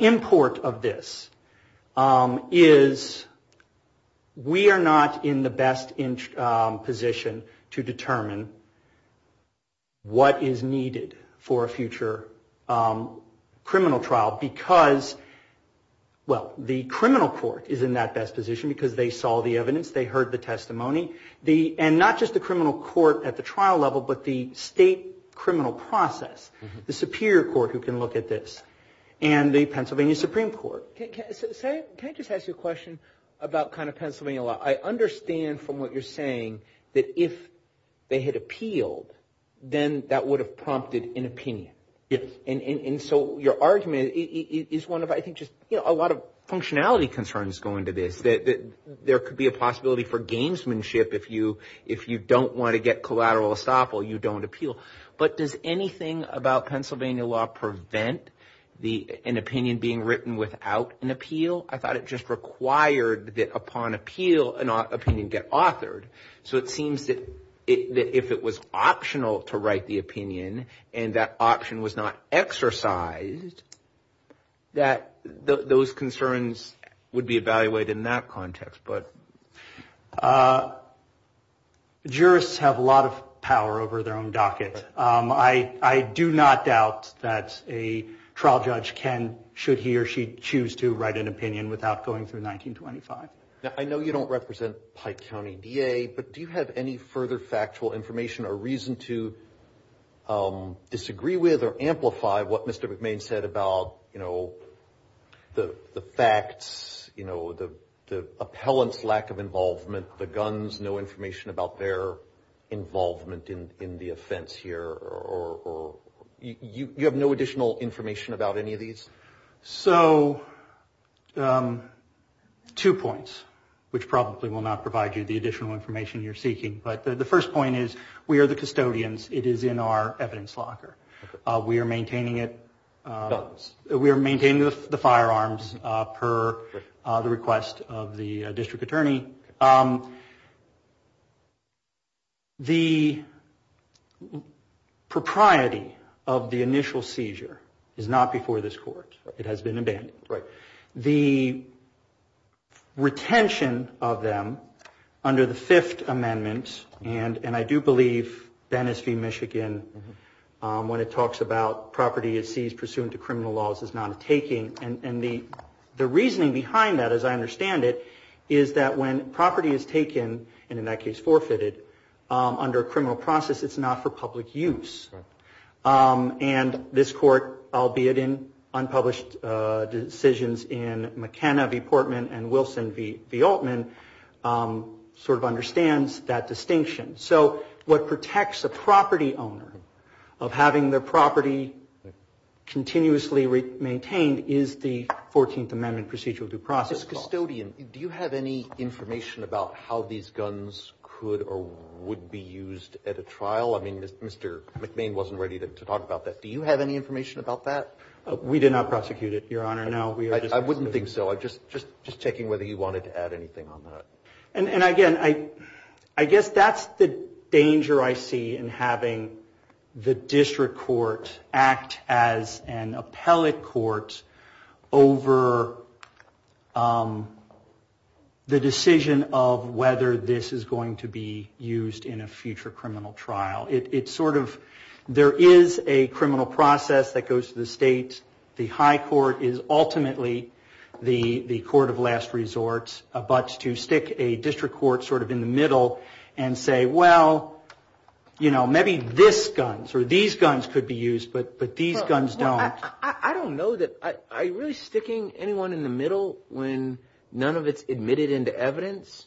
import of this is we are not in the best position to determine what is needed for a future criminal trial because, well, the criminal court is in that best position because they saw the evidence, they heard the testimony, and not just the criminal court at the trial level, but the state criminal process, the superior court who can look at this, and the Pennsylvania Supreme Court. Can I just ask you a question about kind of Pennsylvania law? I understand from what you're saying that if they had appealed, then that would have prompted an opinion. And so your argument is one of I think just a lot of functionality concerns going to this. There could be a possibility for gamesmanship if you don't want to get collateral estoppel, you don't appeal. But does anything about Pennsylvania law prevent an opinion being written without an appeal? I thought it just required that upon appeal an opinion get authored. So it seems that if it was optional to write the opinion and that option was not exercised, that those concerns would be evaluated in that context. Jurists have a lot of power over their own docket. I do not doubt that a trial judge can, should he or she choose to write an opinion without going through 1925. I know you don't represent Pike County DA, but do you have any further factual information or reason to disagree with or amplify what Mr. McMahon said about the facts, the appellant's lack of involvement, the guns, no information about their involvement in the offense here? Or you have no additional information about any of these? So two points, which probably will not provide you the additional information you're seeking. But the first point is we are the custodians. It is in our evidence locker. We are maintaining the firearms per the request of the district attorney. The propriety of the initial seizure is not before this court. It has been abandoned. The retention of them under the Fifth Amendment, and I do believe Bennis v. Michigan, when it talks about property is seized pursuant to criminal laws is not taking. And the reasoning behind that, as I understand it, is that when property is taken, and in that case forfeited, under a criminal process, it's not for public use. And this court, albeit in unpublished decisions in McKenna v. Portman and Wilson v. Altman, sort of understands that distinction. So what protects a property owner of having their property continuously maintained is the Fourteenth Amendment procedural due process. As a custodian, do you have any information about how these guns could or would be used at a trial? I mean, Mr. McNamee wasn't ready to talk about that. Do you have any information about that? We did not prosecute it, Your Honor, no. I wouldn't think so. I'm just checking whether you wanted to add anything on that. And again, I guess that's the danger I see in having the district courts act as an appellate court over the decision of whether this is going to be used in a future criminal trial. It's sort of, there is a criminal process that goes to the states. The high court is ultimately the court of last resort, but to stick a district court sort of in the middle and say, well, you know, maybe these guns could be used, but these guns don't. I don't know that, are you really sticking anyone in the middle when none of it's admitted into evidence?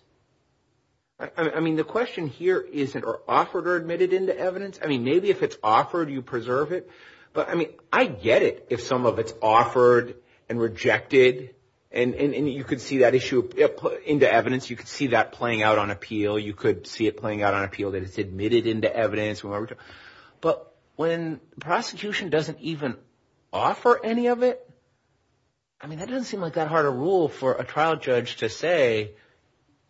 I mean, the question here isn't offered or admitted into evidence. I mean, maybe if it's offered, you preserve it. But I mean, I get it if some of it's offered and rejected, and you could see that issue into evidence. You could see that playing out on appeal. You could see it playing out on appeal that it's admitted into evidence. But when prosecution doesn't even offer any of it, I mean, that doesn't seem like that hard a rule for a trial judge to say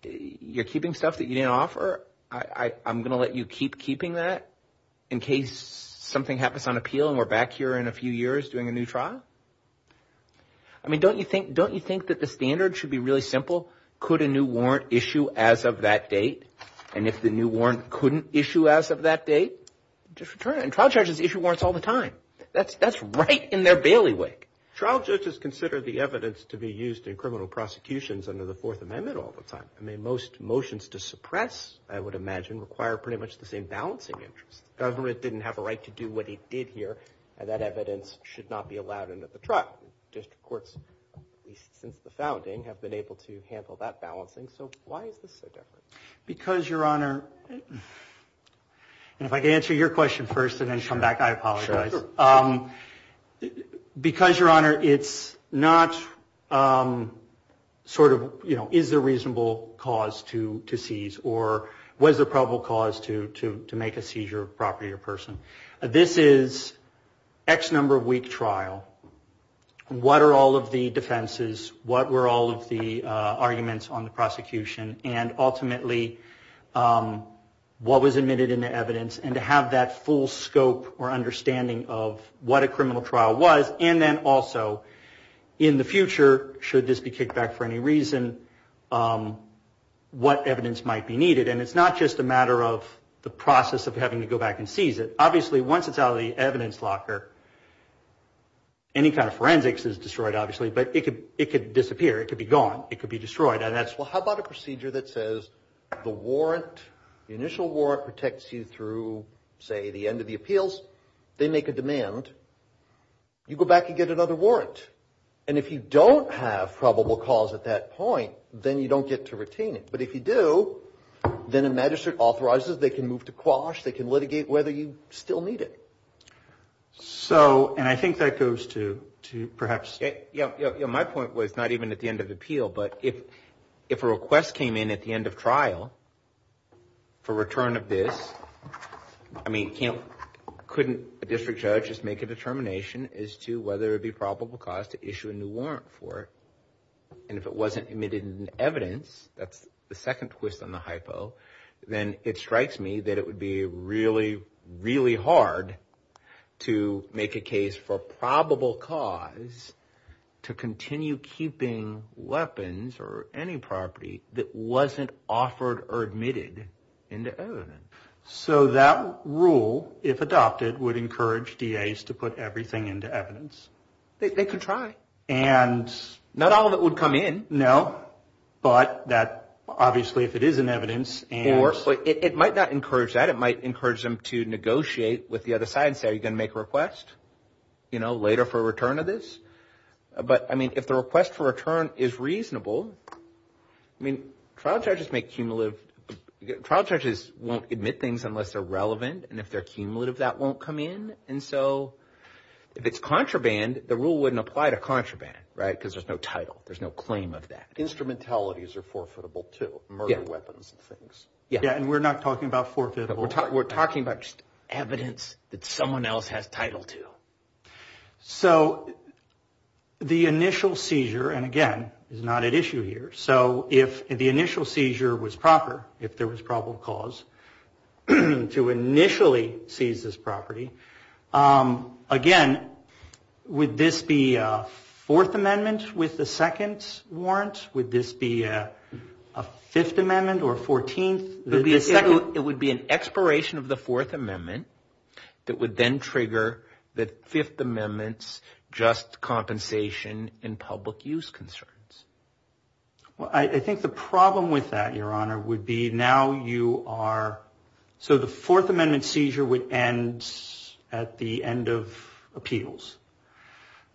you're keeping stuff that you didn't offer. I'm going to let you keep keeping that in case something happens on appeal and we're back here in a few years doing a new trial. I mean, don't you think that the standard should be really simple? Could a new warrant issue as of that date? And if the new warrant couldn't issue as of that date, just return it. And trial judges issue warrants all the time. That's right in their bailiwick. Trial judges consider the evidence to be used in criminal prosecutions under the Fourth Amendment all the time. I mean, most motions to suppress, I would imagine, require pretty much the same balancing interest. The government didn't have a right to do what it did here, and that evidence should not be allowed into the trial. District courts, at least since the founding, have been able to handle that balancing. So why is it so different? Because, Your Honor, if I can answer your question first and then come back, I apologize. Sure. Because, Your Honor, it's not sort of, you know, is there reasonable cause to seize or was there probable cause to make a seizure of property or person? This is X number of week trial. What are all of the defenses? What were all of the arguments on the prosecution? And ultimately, what was admitted in the evidence? And to have that full scope or understanding of what a criminal trial was, and then also, in the future, should this be kicked back for any reason, what evidence might be needed. And it's not just a matter of the process of having to go back and seize it. Obviously, once it's out of the evidence locker, any kind of forensics is destroyed, obviously. But it could disappear. It could be gone. It could be destroyed. And that's, well, how about a procedure that says the warrant, the initial warrant, protects you through, say, the end of the appeals. They make a demand. You go back and get another warrant. And if you don't have probable cause at that point, then you don't get to retain it. But if you do, then a magistrate authorizes. They can move to quash. They can litigate whether you still need it. So, and I think that goes to perhaps. Yeah, my point was not even at the end of appeal. But if a request came in at the end of trial for return of this, I mean, couldn't a district judge just make a determination as to whether it would be probable cause to issue a new warrant for it? And if it wasn't admitted in the evidence, that's the second twist on the hypo, then it strikes me that it would be really, really hard to make a case for probable cause to continue keeping weapons or any property that wasn't offered or admitted in the evidence. So that rule, if adopted, would encourage DAs to put everything into evidence. They could try. And not all of it would come in, no. But that, obviously, if it is in evidence. It might not encourage that. It might encourage them to negotiate with the other side and say, are you going to make a request later for return of this? But, I mean, if the request for return is reasonable, I mean, trial judges make cumulative. Trial judges won't admit things unless they're relevant. And if they're cumulative, that won't come in. And so if it's contraband, the rule wouldn't apply to contraband, right, because there's no title. There's no claim of that. Instrumentalities are forfeitable, too, murder weapons and things. Yeah, and we're not talking about forfeitable. We're talking about evidence that someone else has title to. So the initial seizure, and again, is not at issue here. So if the initial seizure was proper, if there was probable cause to initially seize this property, again, would this be a Fourth Amendment with the second warrants? Would this be a Fifth Amendment or a 14th? It would be an expiration of the Fourth Amendment that would then trigger the Fifth Amendment's just compensation in public use concerns. Well, I think the problem with that, Your Honor, would be now you are, so the Fourth Amendment seizure would end at the end of appeals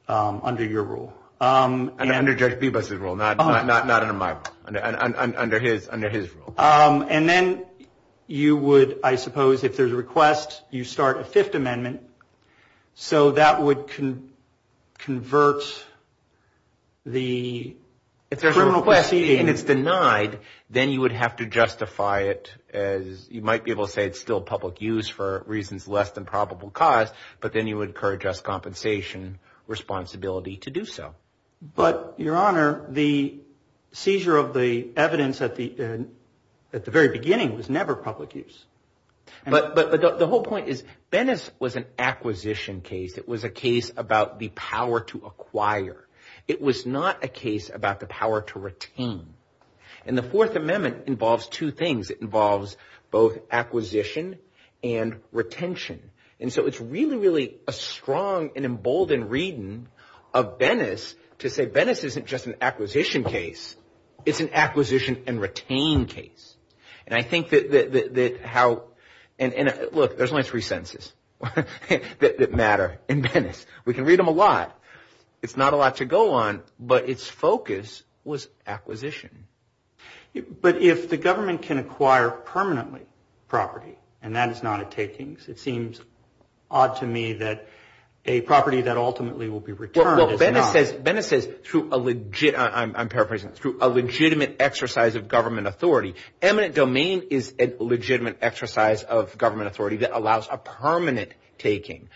under your rule. Under Judge Bibas's rule, not under my, under his rule. And then you would, I suppose, if there's a request, you start a Fifth Amendment, so that would convert the criminal question. And if it's denied, then you would have to justify it as, you might be able to say it's still public use for reasons less than probable cause, but then you would incur just compensation responsibility to do so. But, Your Honor, the seizure of the evidence at the very beginning was never public use. But the whole point is, Venice was an acquisition case. It was a case about the power to acquire. It was not a case about the power to retain. And the Fourth Amendment involves two things. It involves both acquisition and retention. And so it's really, really a strong and emboldened reading of Venice to say Venice isn't just an acquisition case. It's an acquisition and retain case. And I think that how, and look, there's only three sentences that matter in Venice. We can read them a lot. It's not a lot to go on, but its focus was acquisition. But if the government can acquire permanently property and that is not a taking, it seems odd to me that a property that ultimately will be returned is not. Well, Venice says, I'm paraphrasing, through a legitimate exercise of government authority. Eminent domain is a legitimate exercise of government authority that allows a permanent taking.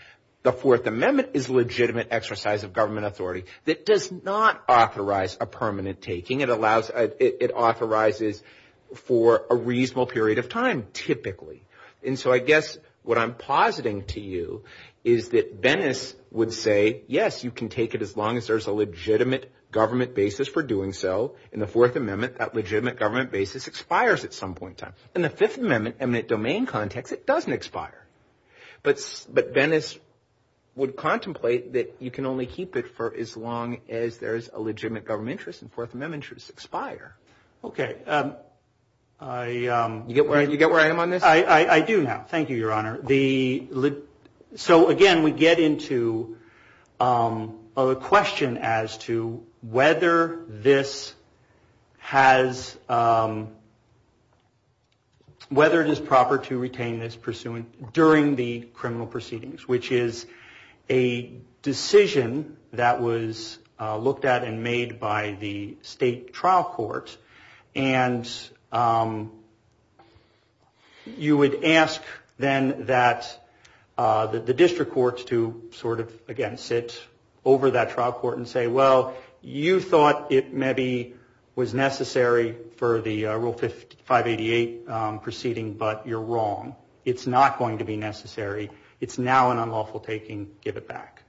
The Fourth Amendment is a legitimate exercise of government authority that does not authorize a permanent taking. It authorizes for a reasonable period of time, typically. And so I guess what I'm positing to you is that Venice would say, yes, you can take it as long as there's a legitimate government basis for doing so. In the Fourth Amendment, that legitimate government basis expires at some point in time. In the Fifth Amendment, eminent domain context, it doesn't expire. But Venice would contemplate that you can only keep it for as long as there's a legitimate government interest, and the Fourth Amendment should expire. Okay. Do you get where I am on this? I do now. Thank you, Your Honor. So, again, we get into a question as to whether this has – whether it is proper to retain this pursuant during the criminal proceedings, which is a decision that was looked at and made by the state trial courts. And you would ask then that the district courts to sort of, again, sit over that trial court and say, well, you thought it maybe was necessary for the Rule 588 proceeding, but you're wrong. It's not going to be necessary. It's now an unlawful taking. Give it back.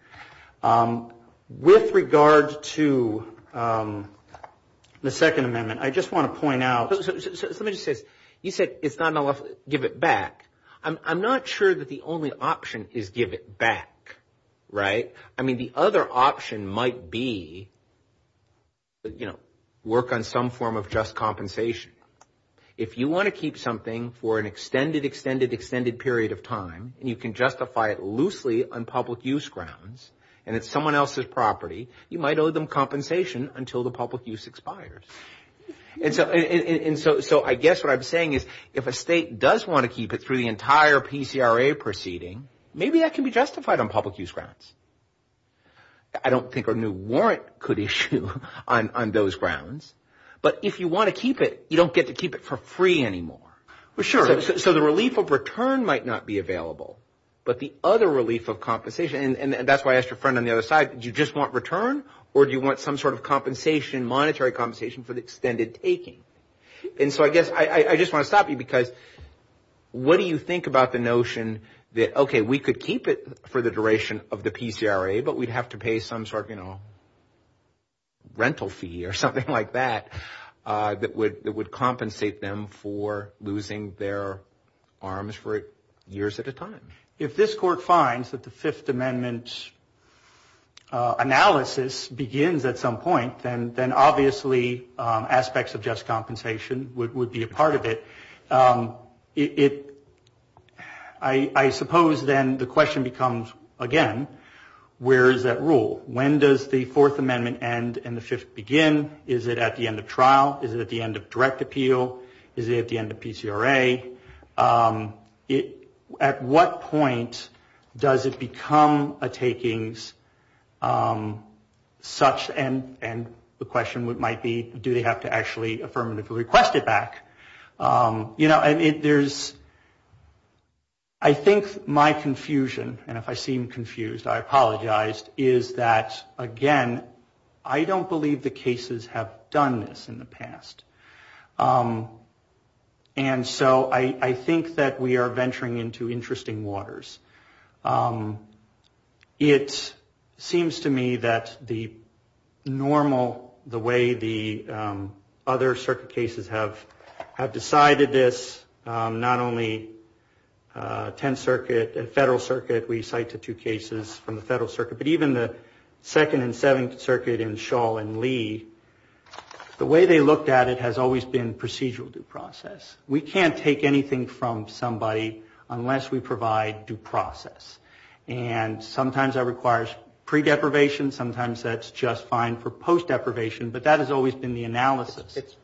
With regard to the Second Amendment, I just want to point out – somebody just said – you said it's not unlawful. Give it back. I'm not sure that the only option is give it back, right? I mean, the other option might be, you know, work on some form of just compensation. If you want to keep something for an extended, extended, extended period of time, and you can justify it loosely on public use grounds, and it's someone else's property, you might owe them compensation until the public use expires. And so I guess what I'm saying is if a state does want to keep it through the entire PCRA proceeding, maybe that can be justified on public use grounds. I don't think a new warrant could issue on those grounds. But if you want to keep it, you don't get to keep it for free anymore. Well, sure. So the relief of return might not be available, but the other relief of compensation – and that's why I asked your friend on the other side, did you just want return or do you want some sort of compensation, monetary compensation, for the extended taking? And so I guess I just want to stop you because what do you think about the notion that, okay, we could keep it for the duration of the PCRA, but we'd have to pay some sort of, you know, losing their arms for years at a time? If this court finds that the Fifth Amendment analysis begins at some point, then obviously aspects of just compensation would be a part of it. I suppose then the question becomes, again, where is that rule? When does the Fourth Amendment end and the Fifth begin? Is it at the end of trial? Is it at the end of direct appeal? Is it at the end of PCRA? At what point does it become a takings such, and the question might be, do they have to actually affirmatively request it back? You know, I think my confusion, and if I seem confused, I apologize, is that, again, I don't believe the cases have done this in the past. And so I think that we are venturing into interesting waters. It seems to me that the normal, the way the other circuit cases have decided this, not only Tenth Circuit and Federal Circuit, we cite the two cases from the Federal Circuit, but even the Second and Seventh Circuit in Shaw and Lee, the way they looked at it has always been procedural due process. We can't take anything from somebody unless we provide due process. And sometimes that requires pre-deprivation. Sometimes that's just fine for post-deprivation. But that has always been the analysis. It's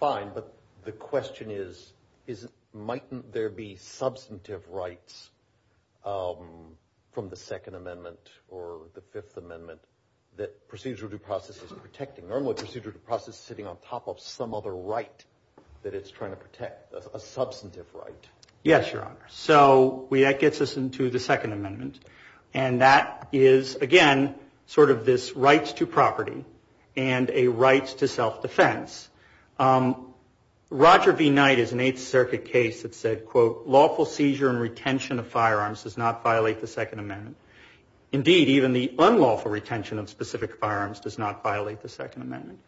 fine, but the question is, might there be substantive rights from the Second Amendment or the Fifth Amendment that procedural due process is protecting? Normally procedural due process is sitting on top of some other right that it's trying to protect, a substantive right. Yes, Your Honor. So that gets us into the Second Amendment. And that is, again, sort of this rights to property and a rights to self-defense. Roger B. Knight is an Eighth Circuit case that said, quote, lawful seizure and retention of firearms does not violate the Second Amendment. Indeed, even the unlawful retention of specific firearms does not violate the Second Amendment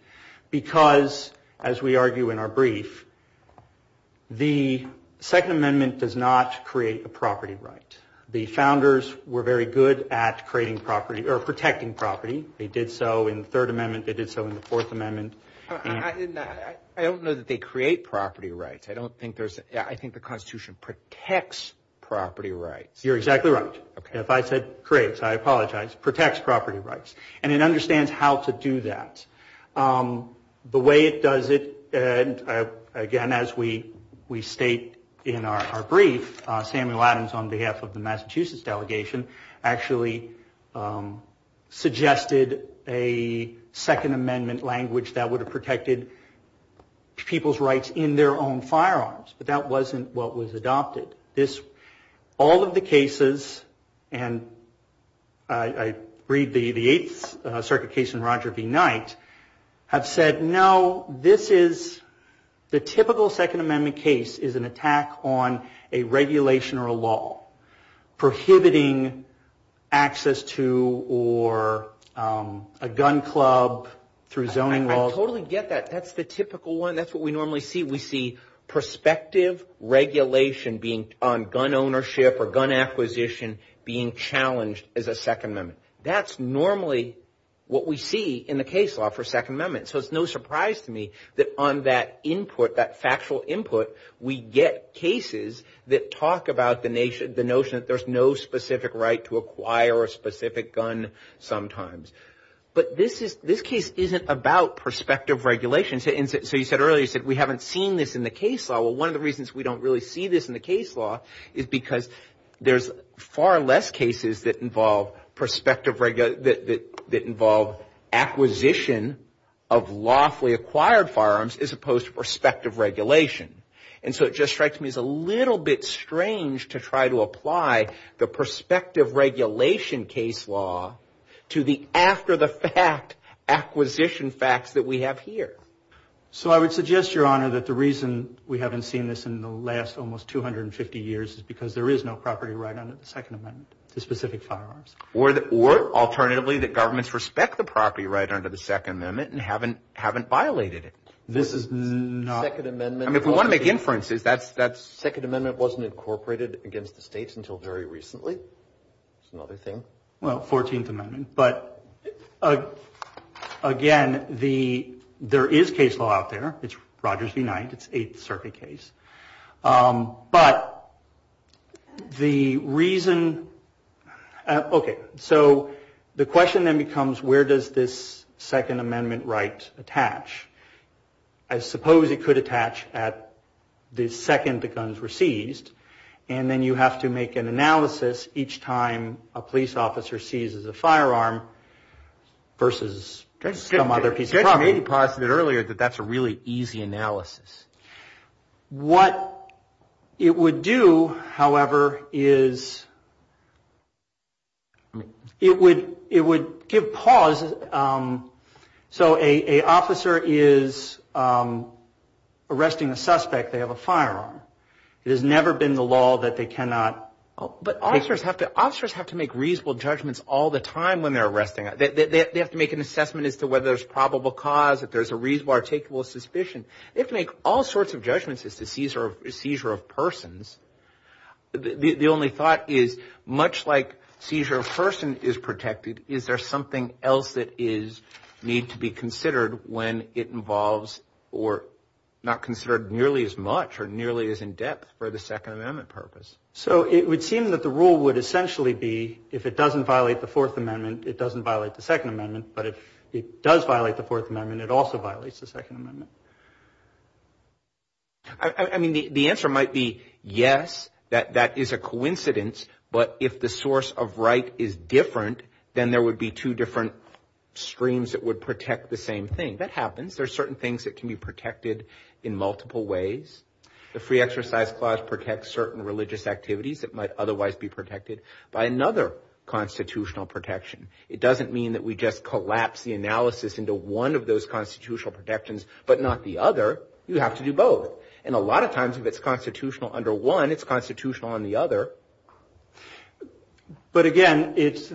because, as we argue in our brief, the Second Amendment does not create a property right. The founders were very good at creating property or protecting property. They did so in the Third Amendment. They did so in the Fourth Amendment. I don't know that they create property rights. I think the Constitution protects property rights. You're exactly right. If I said creates, I apologize. It protects property rights. And it understands how to do that. The way it does it, again, as we state in our brief, Samuel Adams, on behalf of the Massachusetts delegation, actually suggested a Second Amendment language that would have protected people's rights in their own firearms. But that wasn't what was adopted. All of the cases, and I read the Eighth Circuit case and Roger B. Knight, have said, no, this is the typical Second Amendment case is an attack on a regulation or a law, prohibiting access to or a gun club through zoning laws. I totally get that. That's the typical one. That's what we normally see. We see perspective regulation being on gun ownership or gun acquisition being challenged as a Second Amendment. That's normally what we see in the case law for Second Amendment. So it's no surprise to me that on that input, that factual input, we get cases that talk about the notion that there's no specific right to acquire a specific gun sometimes. But this case isn't about perspective regulation. So you said earlier, you said we haven't seen this in the case law. Well, one of the reasons we don't really see this in the case law is because there's far less cases that involve acquisition of lawfully acquired firearms as opposed to perspective regulation. And so it just strikes me as a little bit strange to try to apply the perspective regulation case law to the after-the-fact acquisition facts that we have here. So I would suggest, Your Honor, that the reason we haven't seen this in the last almost 250 years is because there is no property right under the Second Amendment to specific firearms. Or, alternatively, that governments respect the property right under the Second Amendment and haven't violated it. This is not... Second Amendment... I mean, if we want to make inferences, that Second Amendment wasn't incorporated against the states until very recently. That's another thing. Well, 14th Amendment. But, again, there is case law out there. It's Rogers v. Knight. It's Eighth Circuit case. But the reason... Okay, so the question then becomes, where does this Second Amendment right attach? I suppose it could attach at the second the guns were seized. And then you have to make an analysis each time a police officer seizes a firearm versus some other piece of property. You probably posited earlier that that's a really easy analysis. What it would do, however, is it would give pause. So an officer is arresting a suspect. They have a firearm. It has never been the law that they cannot... But officers have to make reasonable judgments all the time when they're arresting. They have to make an assessment as to whether there's probable cause, if there's a reasonable or takeable suspicion. They have to make all sorts of judgments as to seizure of persons. The only thought is, much like seizure of person is protected, is there something else that needs to be considered when it involves or not considered nearly as much or nearly as in depth for the Second Amendment purpose? So it would seem that the rule would essentially be, if it doesn't violate the Fourth Amendment, it doesn't violate the Second Amendment. But if it does violate the Fourth Amendment, it also violates the Second Amendment. I mean, the answer might be, yes, that is a coincidence. But if the source of right is different, then there would be two different streams that would protect the same thing. That happens. There are certain things that can be protected in multiple ways. The Free Exercise Clause protects certain religious activities that might otherwise be protected by another constitutional protection. It doesn't mean that we just collapse the analysis into one of those constitutional protections, but not the other. You have to do both. And a lot of times, if it's constitutional under one, it's constitutional on the other. But again,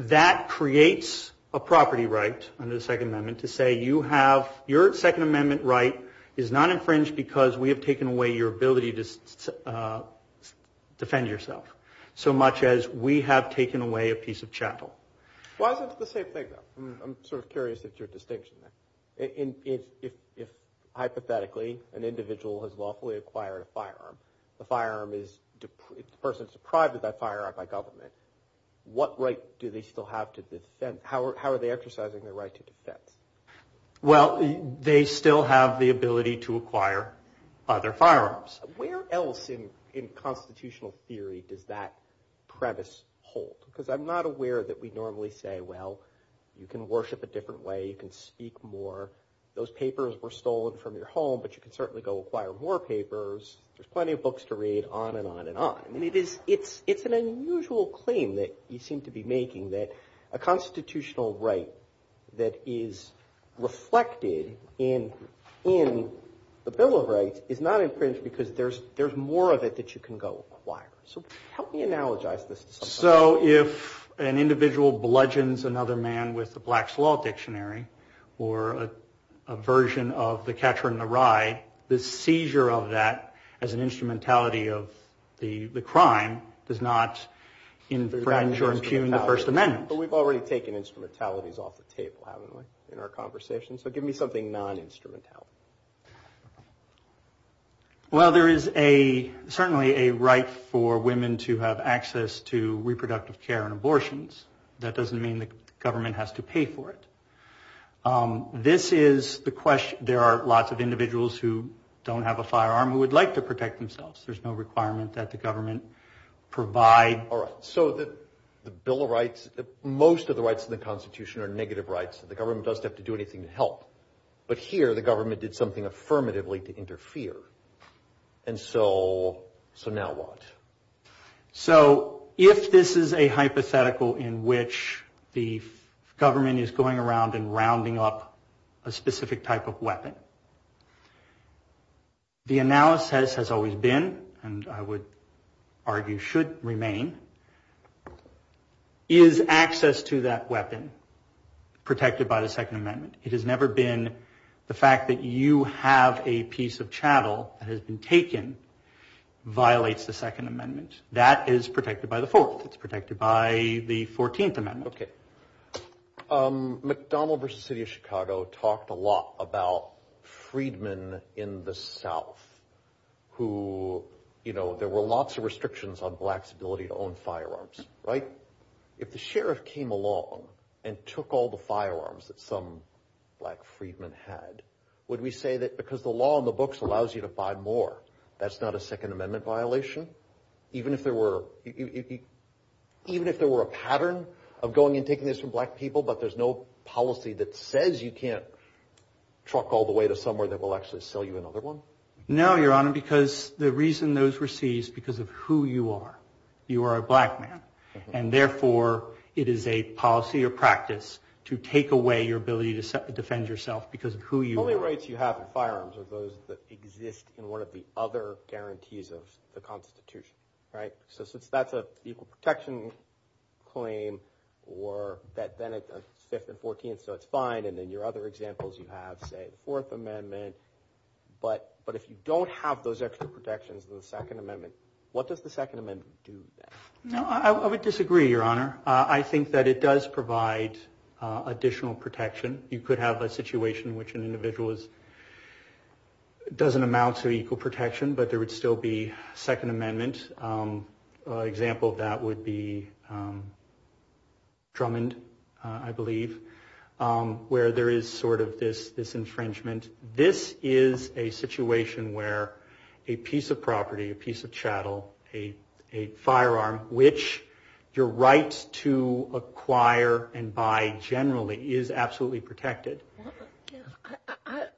that creates a property right under the Second Amendment to say, your Second Amendment right is not infringed because we have taken away your ability to defend yourself, so much as we have taken away a piece of chattel. Why is it the same thing, though? I'm sort of curious at your distinction. If, hypothetically, an individual has lawfully acquired a firearm, the person is deprived of that firearm by government, what right do they still have to dissent? Well, they still have the ability to acquire other firearms. Where else in constitutional theory does that premise hold? Because I'm not aware that we normally say, well, you can worship a different way, you can speak more, those papers were stolen from your home, but you can certainly go acquire more papers, there's plenty of books to read, on and on and on. It's an unusual claim that you seem to be making, that a constitutional right that is reflected in the Bill of Rights is not infringed because there's more of it that you can go acquire. So help me analogize this. So if an individual bludgeons another man with the Black's Law Dictionary, or a version of the Catcher in the Rye, the seizure of that as an instrumentality of the crime does not infringe or impugn the First Amendment. But we've already taken instrumentalities off the table, haven't we, in our conversation? So give me something non-instrumentality. Well, there is certainly a right for women to have access to reproductive care and abortions. That doesn't mean the government has to pay for it. There are lots of individuals who don't have a firearm who would like to protect themselves. There's no requirement that the government provide... All right, so the Bill of Rights, most of the rights in the Constitution are negative rights. The government doesn't have to do anything to help. But here the government did something affirmatively to interfere. And so now what? So if this is a hypothetical in which the government is going around and rounding up a specific type of weapon, the analysis has always been, and I would argue should remain, is access to that weapon protected by the Second Amendment. It has never been the fact that you have a piece of chattel that has been taken violates the Second Amendment. That is protected by the Fourth. It's protected by the Fourteenth Amendment. Okay. McDonald v. City of Chicago talked a lot about freedmen in the South who, you know, there were lots of restrictions on blacks' ability to own firearms, right? If the sheriff came along and took all the firearms that some black freedman had, would we say that because the law in the books allows you to buy more, that's not a Second Amendment violation? Even if there were a pattern of going and taking this from black people, but there's no policy that says you can't truck all the way to somewhere that will actually sell you another one? No, Your Honor, because the reason those were seized, because of who you are. You are a black man, and therefore, it is a policy or practice to take away your ability to defend yourself because of who you are. The only rights you have in firearms are those that exist in one of the other guarantees of the Constitution, right? So since that's an equal protection claim, or that then is the Fifth and Fourteenth, so it's fine, and then your other examples you have, say, the Fourth Amendment, but if you don't have those extra protections in the Second Amendment, what does the Second Amendment do then? No, I would disagree, Your Honor. I think that it does provide additional protection. You could have a situation in which an individual doesn't amount to equal protection, but there would still be Second Amendment. An example of that would be Drummond, I believe, where there is sort of this infringement. And this is a situation where a piece of property, a piece of chattel, a firearm, which your right to acquire and buy generally is absolutely protected.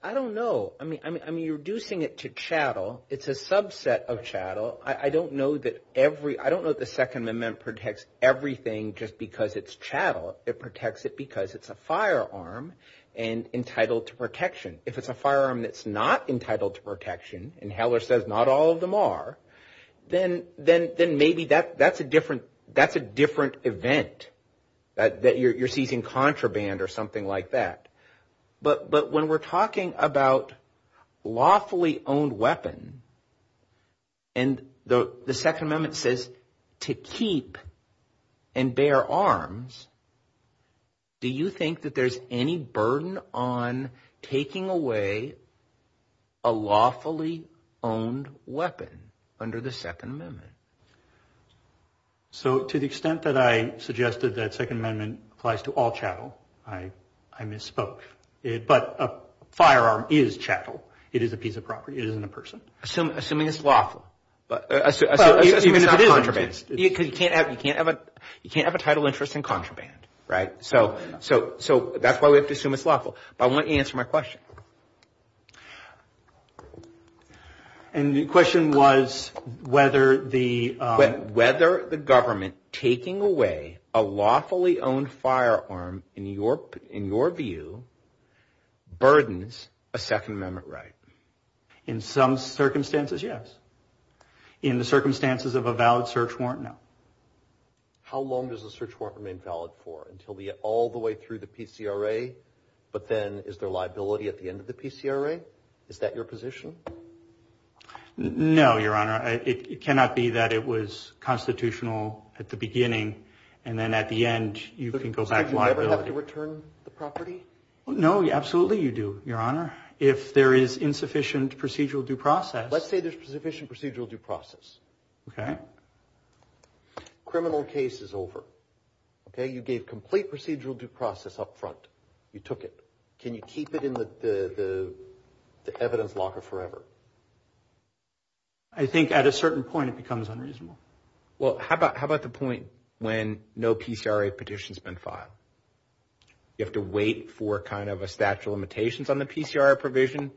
I don't know. I mean, you're reducing it to chattel. It's a subset of chattel. I don't know that the Second Amendment protects everything just because it's chattel. It protects it because it's a firearm and entitled to protection. If it's a firearm that's not entitled to protection, and Heller says not all of them are, then maybe that's a different event, that you're seizing contraband or something like that. But when we're talking about lawfully owned weapon, and the Second Amendment says to keep and bear arms, do you think that there's any burden on taking away a lawfully owned weapon under the Second Amendment? So to the extent that I suggested that Second Amendment applies to all chattel, I misspoke. But a firearm is chattel. It is a piece of property. It isn't a person. Assuming it's lawful. Assuming it's not contraband because you can't have a title interest in contraband. So that's why we have to assume it's lawful. But I want you to answer my question. And the question was whether the government taking away a lawfully owned firearm, in your view, burdens a Second Amendment right? In some circumstances, yes. In the circumstances of a valid search warrant, no. How long does a search warrant remain valid for? Until all the way through the PCRA? But then is there liability at the end of the PCRA? Is that your position? No, Your Honor. It cannot be that it was constitutional at the beginning, and then at the end you can go back to liability. Do I ever have to return the property? No, absolutely you do, Your Honor. If there is insufficient procedural due process. Let's say there's sufficient procedural due process. Okay. Criminal case is over. Okay, you gave complete procedural due process up front. You took it. Can you keep it in the evidence locker forever? I think at a certain point it becomes unreasonable. Well, how about the point when no PCRA petition's been filed? You have to wait for kind of a statute of limitations on the PCRA provision, in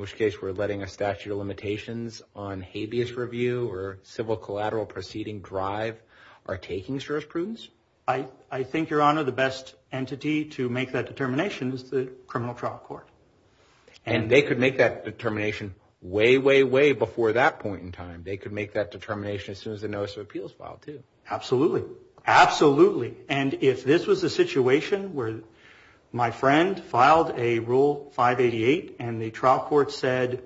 which case we're letting a statute of limitations on habeas review or civil collateral proceeding drive our taking search proofs? I think, Your Honor, the best entity to make that determination is the criminal trial court. And they could make that determination way, way, way before that point in time. They could make that determination as soon as the notice of appeals filed, too. Absolutely. Absolutely. And if this was a situation where my friend filed a Rule 588 and the trial court said,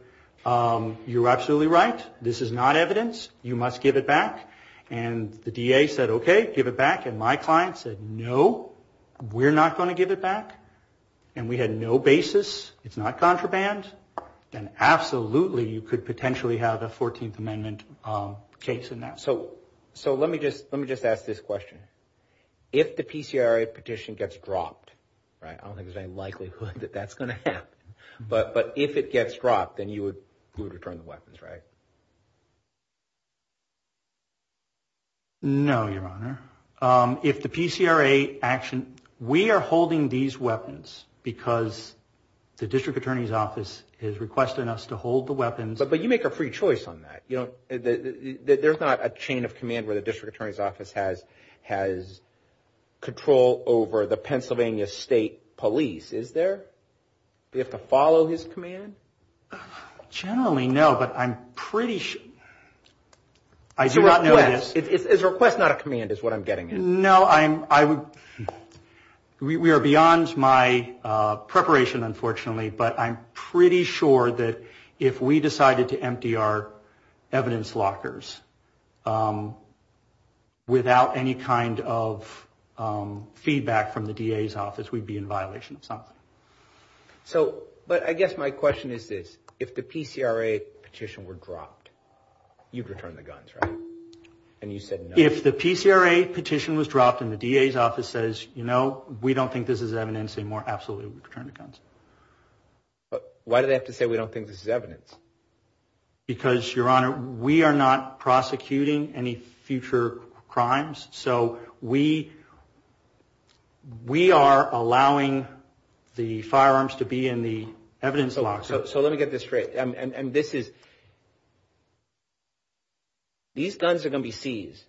you're absolutely right, this is not evidence, you must give it back, and the DA said, okay, give it back, and my client said, no, we're not going to give it back, and we had no basis, it's not contraband, then absolutely you could potentially have a 14th Amendment case in that. So let me just ask this question. If the PCRA petition gets dropped, right, I don't think there's any likelihood that that's going to happen, but if it gets dropped, then you would return the weapons, right? No, Your Honor. If the PCRA action, we are holding these weapons because the district attorney's office has requested us to hold the weapons. But you make a free choice on that. There's not a chain of command where the district attorney's office has control over the Pennsylvania State Police, is there? Do you have to follow his command? Generally, no, but I'm pretty sure. I do not know this. It's a request, not a command is what I'm getting at. No, we are beyond my preparation, unfortunately, but I'm pretty sure that if we decided to empty our evidence lockers without any kind of feedback from the DA's office, we'd be in violation of something. So, but I guess my question is this. If the PCRA petition were dropped, you'd return the guns, right? And you said no. If the PCRA petition was dropped and the DA's office says, you know, we don't think this is evidence anymore, absolutely we'd return the guns. But why do they have to say we don't think this is evidence? Because, Your Honor, we are not prosecuting any future crimes, so we are allowing the firearms to be in the evidence lockers. So let me get this straight. And this is, these guns are going to be seized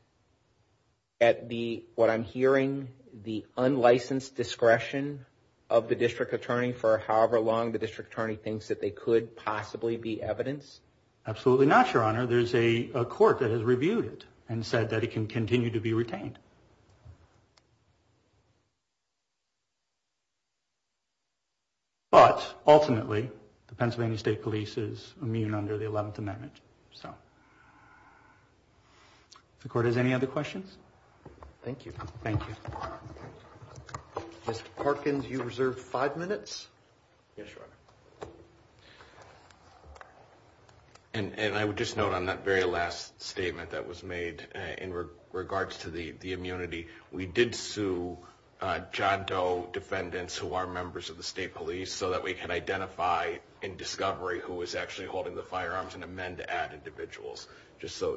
at the, what I'm hearing, the unlicensed discretion of the district attorney for however long the district attorney thinks that they could possibly be evidence? Absolutely not, Your Honor. Your Honor, there's a court that has reviewed it and said that it can continue to be retained. But ultimately, the Pennsylvania State Police is immune under the 11th Amendment, so. The court has any other questions? Thank you. Thank you. Mr. Parkins, you reserve five minutes. Yes, Your Honor. And I would just note on that very last statement that was made in regards to the immunity, we did sue John Doe defendants who are members of the state police so that we can identify in discovery who was actually holding the firearms and amend to add individuals, just so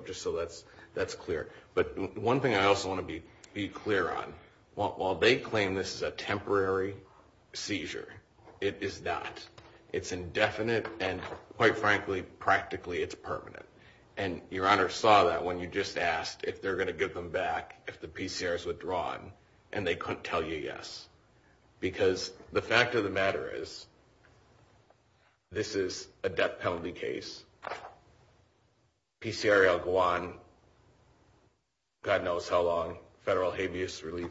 that's clear. But one thing I also want to be clear on, while they claim this is a temporary seizure, it is not. It's indefinite, and quite frankly, practically, it's permanent. And Your Honor saw that when you just asked if they're going to give them back if the PCR is withdrawn, and they couldn't tell you yes. Because the fact of the matter is, this is a death penalty case. PCR L-1, God knows how long, federal habeas relief,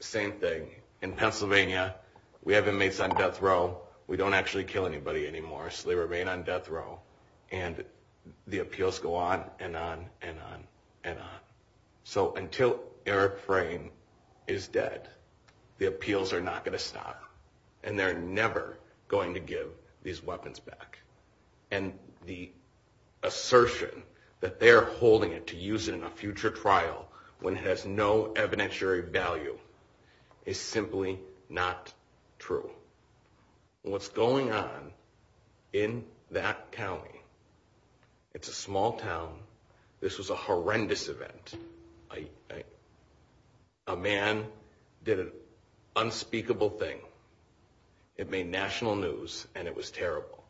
same thing. In Pennsylvania, we have inmates on death row. We don't actually kill anybody anymore, so they remain on death row. And the appeals go on and on and on and on. So until Eric Frayn is dead, the appeals are not going to stop, and they're never going to give these weapons back. And the assertion that they're holding it to use it in a future trial when it has no evidentiary value is simply not true. And what's going on in that county, it's a small town. This was a horrendous event. A man did an unspeakable thing. It made national news, and it was terrible.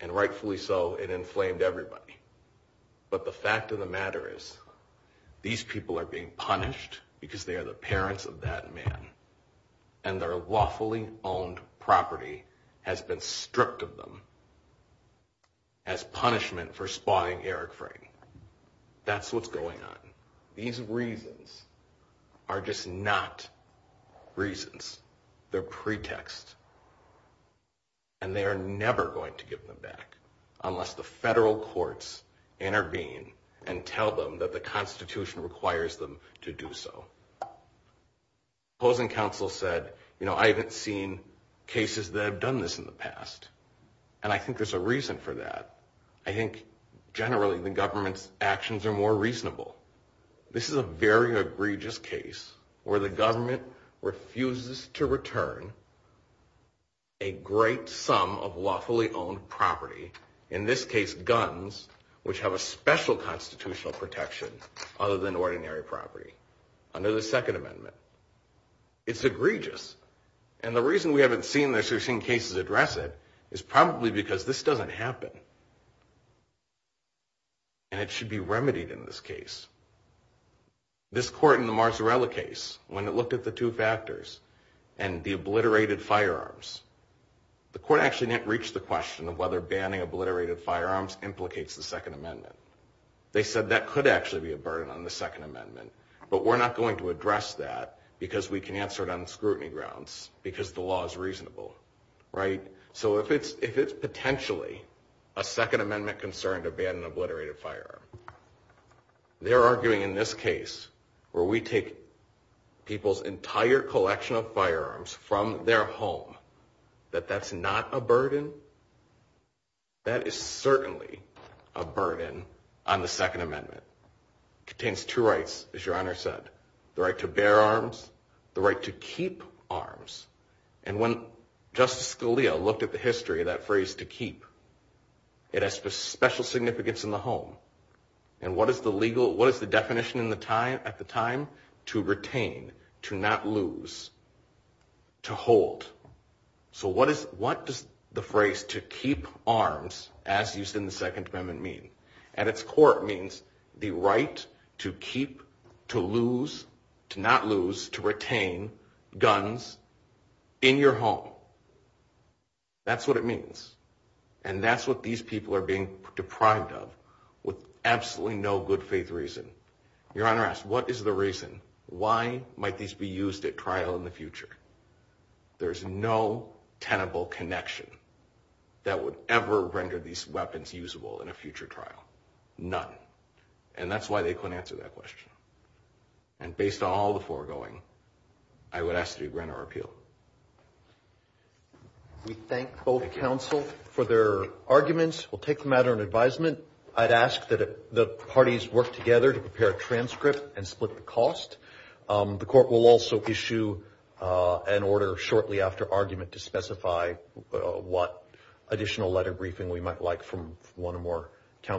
And rightfully so, it inflamed everybody. But the fact of the matter is, these people are being punished because they are the parents of that man, and their lawfully owned property has been stripped of them as punishment for spying Eric Frayn. That's what's going on. These reasons are just not reasons. They're pretexts. And they are never going to give them back unless the federal courts intervene and tell them that the Constitution requires them to do so. Opposing counsel said, you know, I haven't seen cases that have done this in the past. And I think there's a reason for that. I think generally the government's actions are more reasonable. This is a very egregious case where the government refuses to return a great sum of lawfully owned property, in this case guns, which have a special constitutional protection other than ordinary property, under the Second Amendment. It's egregious. And the reason we haven't seen this or seen cases address it is probably because this doesn't happen. And it should be remedied in this case. This court in the Marzarella case, when it looked at the two factors and the obliterated firearms, the court actually didn't reach the question of whether banning obliterated firearms implicates the Second Amendment. They said that could actually be a burden on the Second Amendment, but we're not going to address that because we can answer it on scrutiny grounds because the law is reasonable, right? So if it's potentially a Second Amendment concern to ban an obliterated firearm, they're arguing in this case where we take people's entire collection of firearms from their home, that that's not a burden. That is certainly a burden on the Second Amendment. It contains two rights, as Your Honor said, the right to bear arms, the right to keep arms. And when Justice Scalia looked at the history of that phrase to keep, it has special significance in the home. And what is the legal, what is the definition at the time? To retain, to not lose, to hold. So what does the phrase to keep arms, as used in the Second Amendment, mean? At its core, it means the right to keep, to lose, to not lose, to retain guns in your home. That's what it means. And that's what these people are being deprived of with absolutely no good faith reason. Your Honor asks, what is the reason? Why might these be used at trial in the future? There's no tenable connection that would ever render these weapons usable in a future trial, none. And that's why they couldn't answer that question. And based on all the foregoing, I would ask that you grant our appeal. We thank both counsel for their arguments. We'll take them at our advisement. I'd ask that the parties work together to prepare a transcript and split the cost. The court will also issue an order shortly after argument to specify what additional letter briefing we might like from one or more.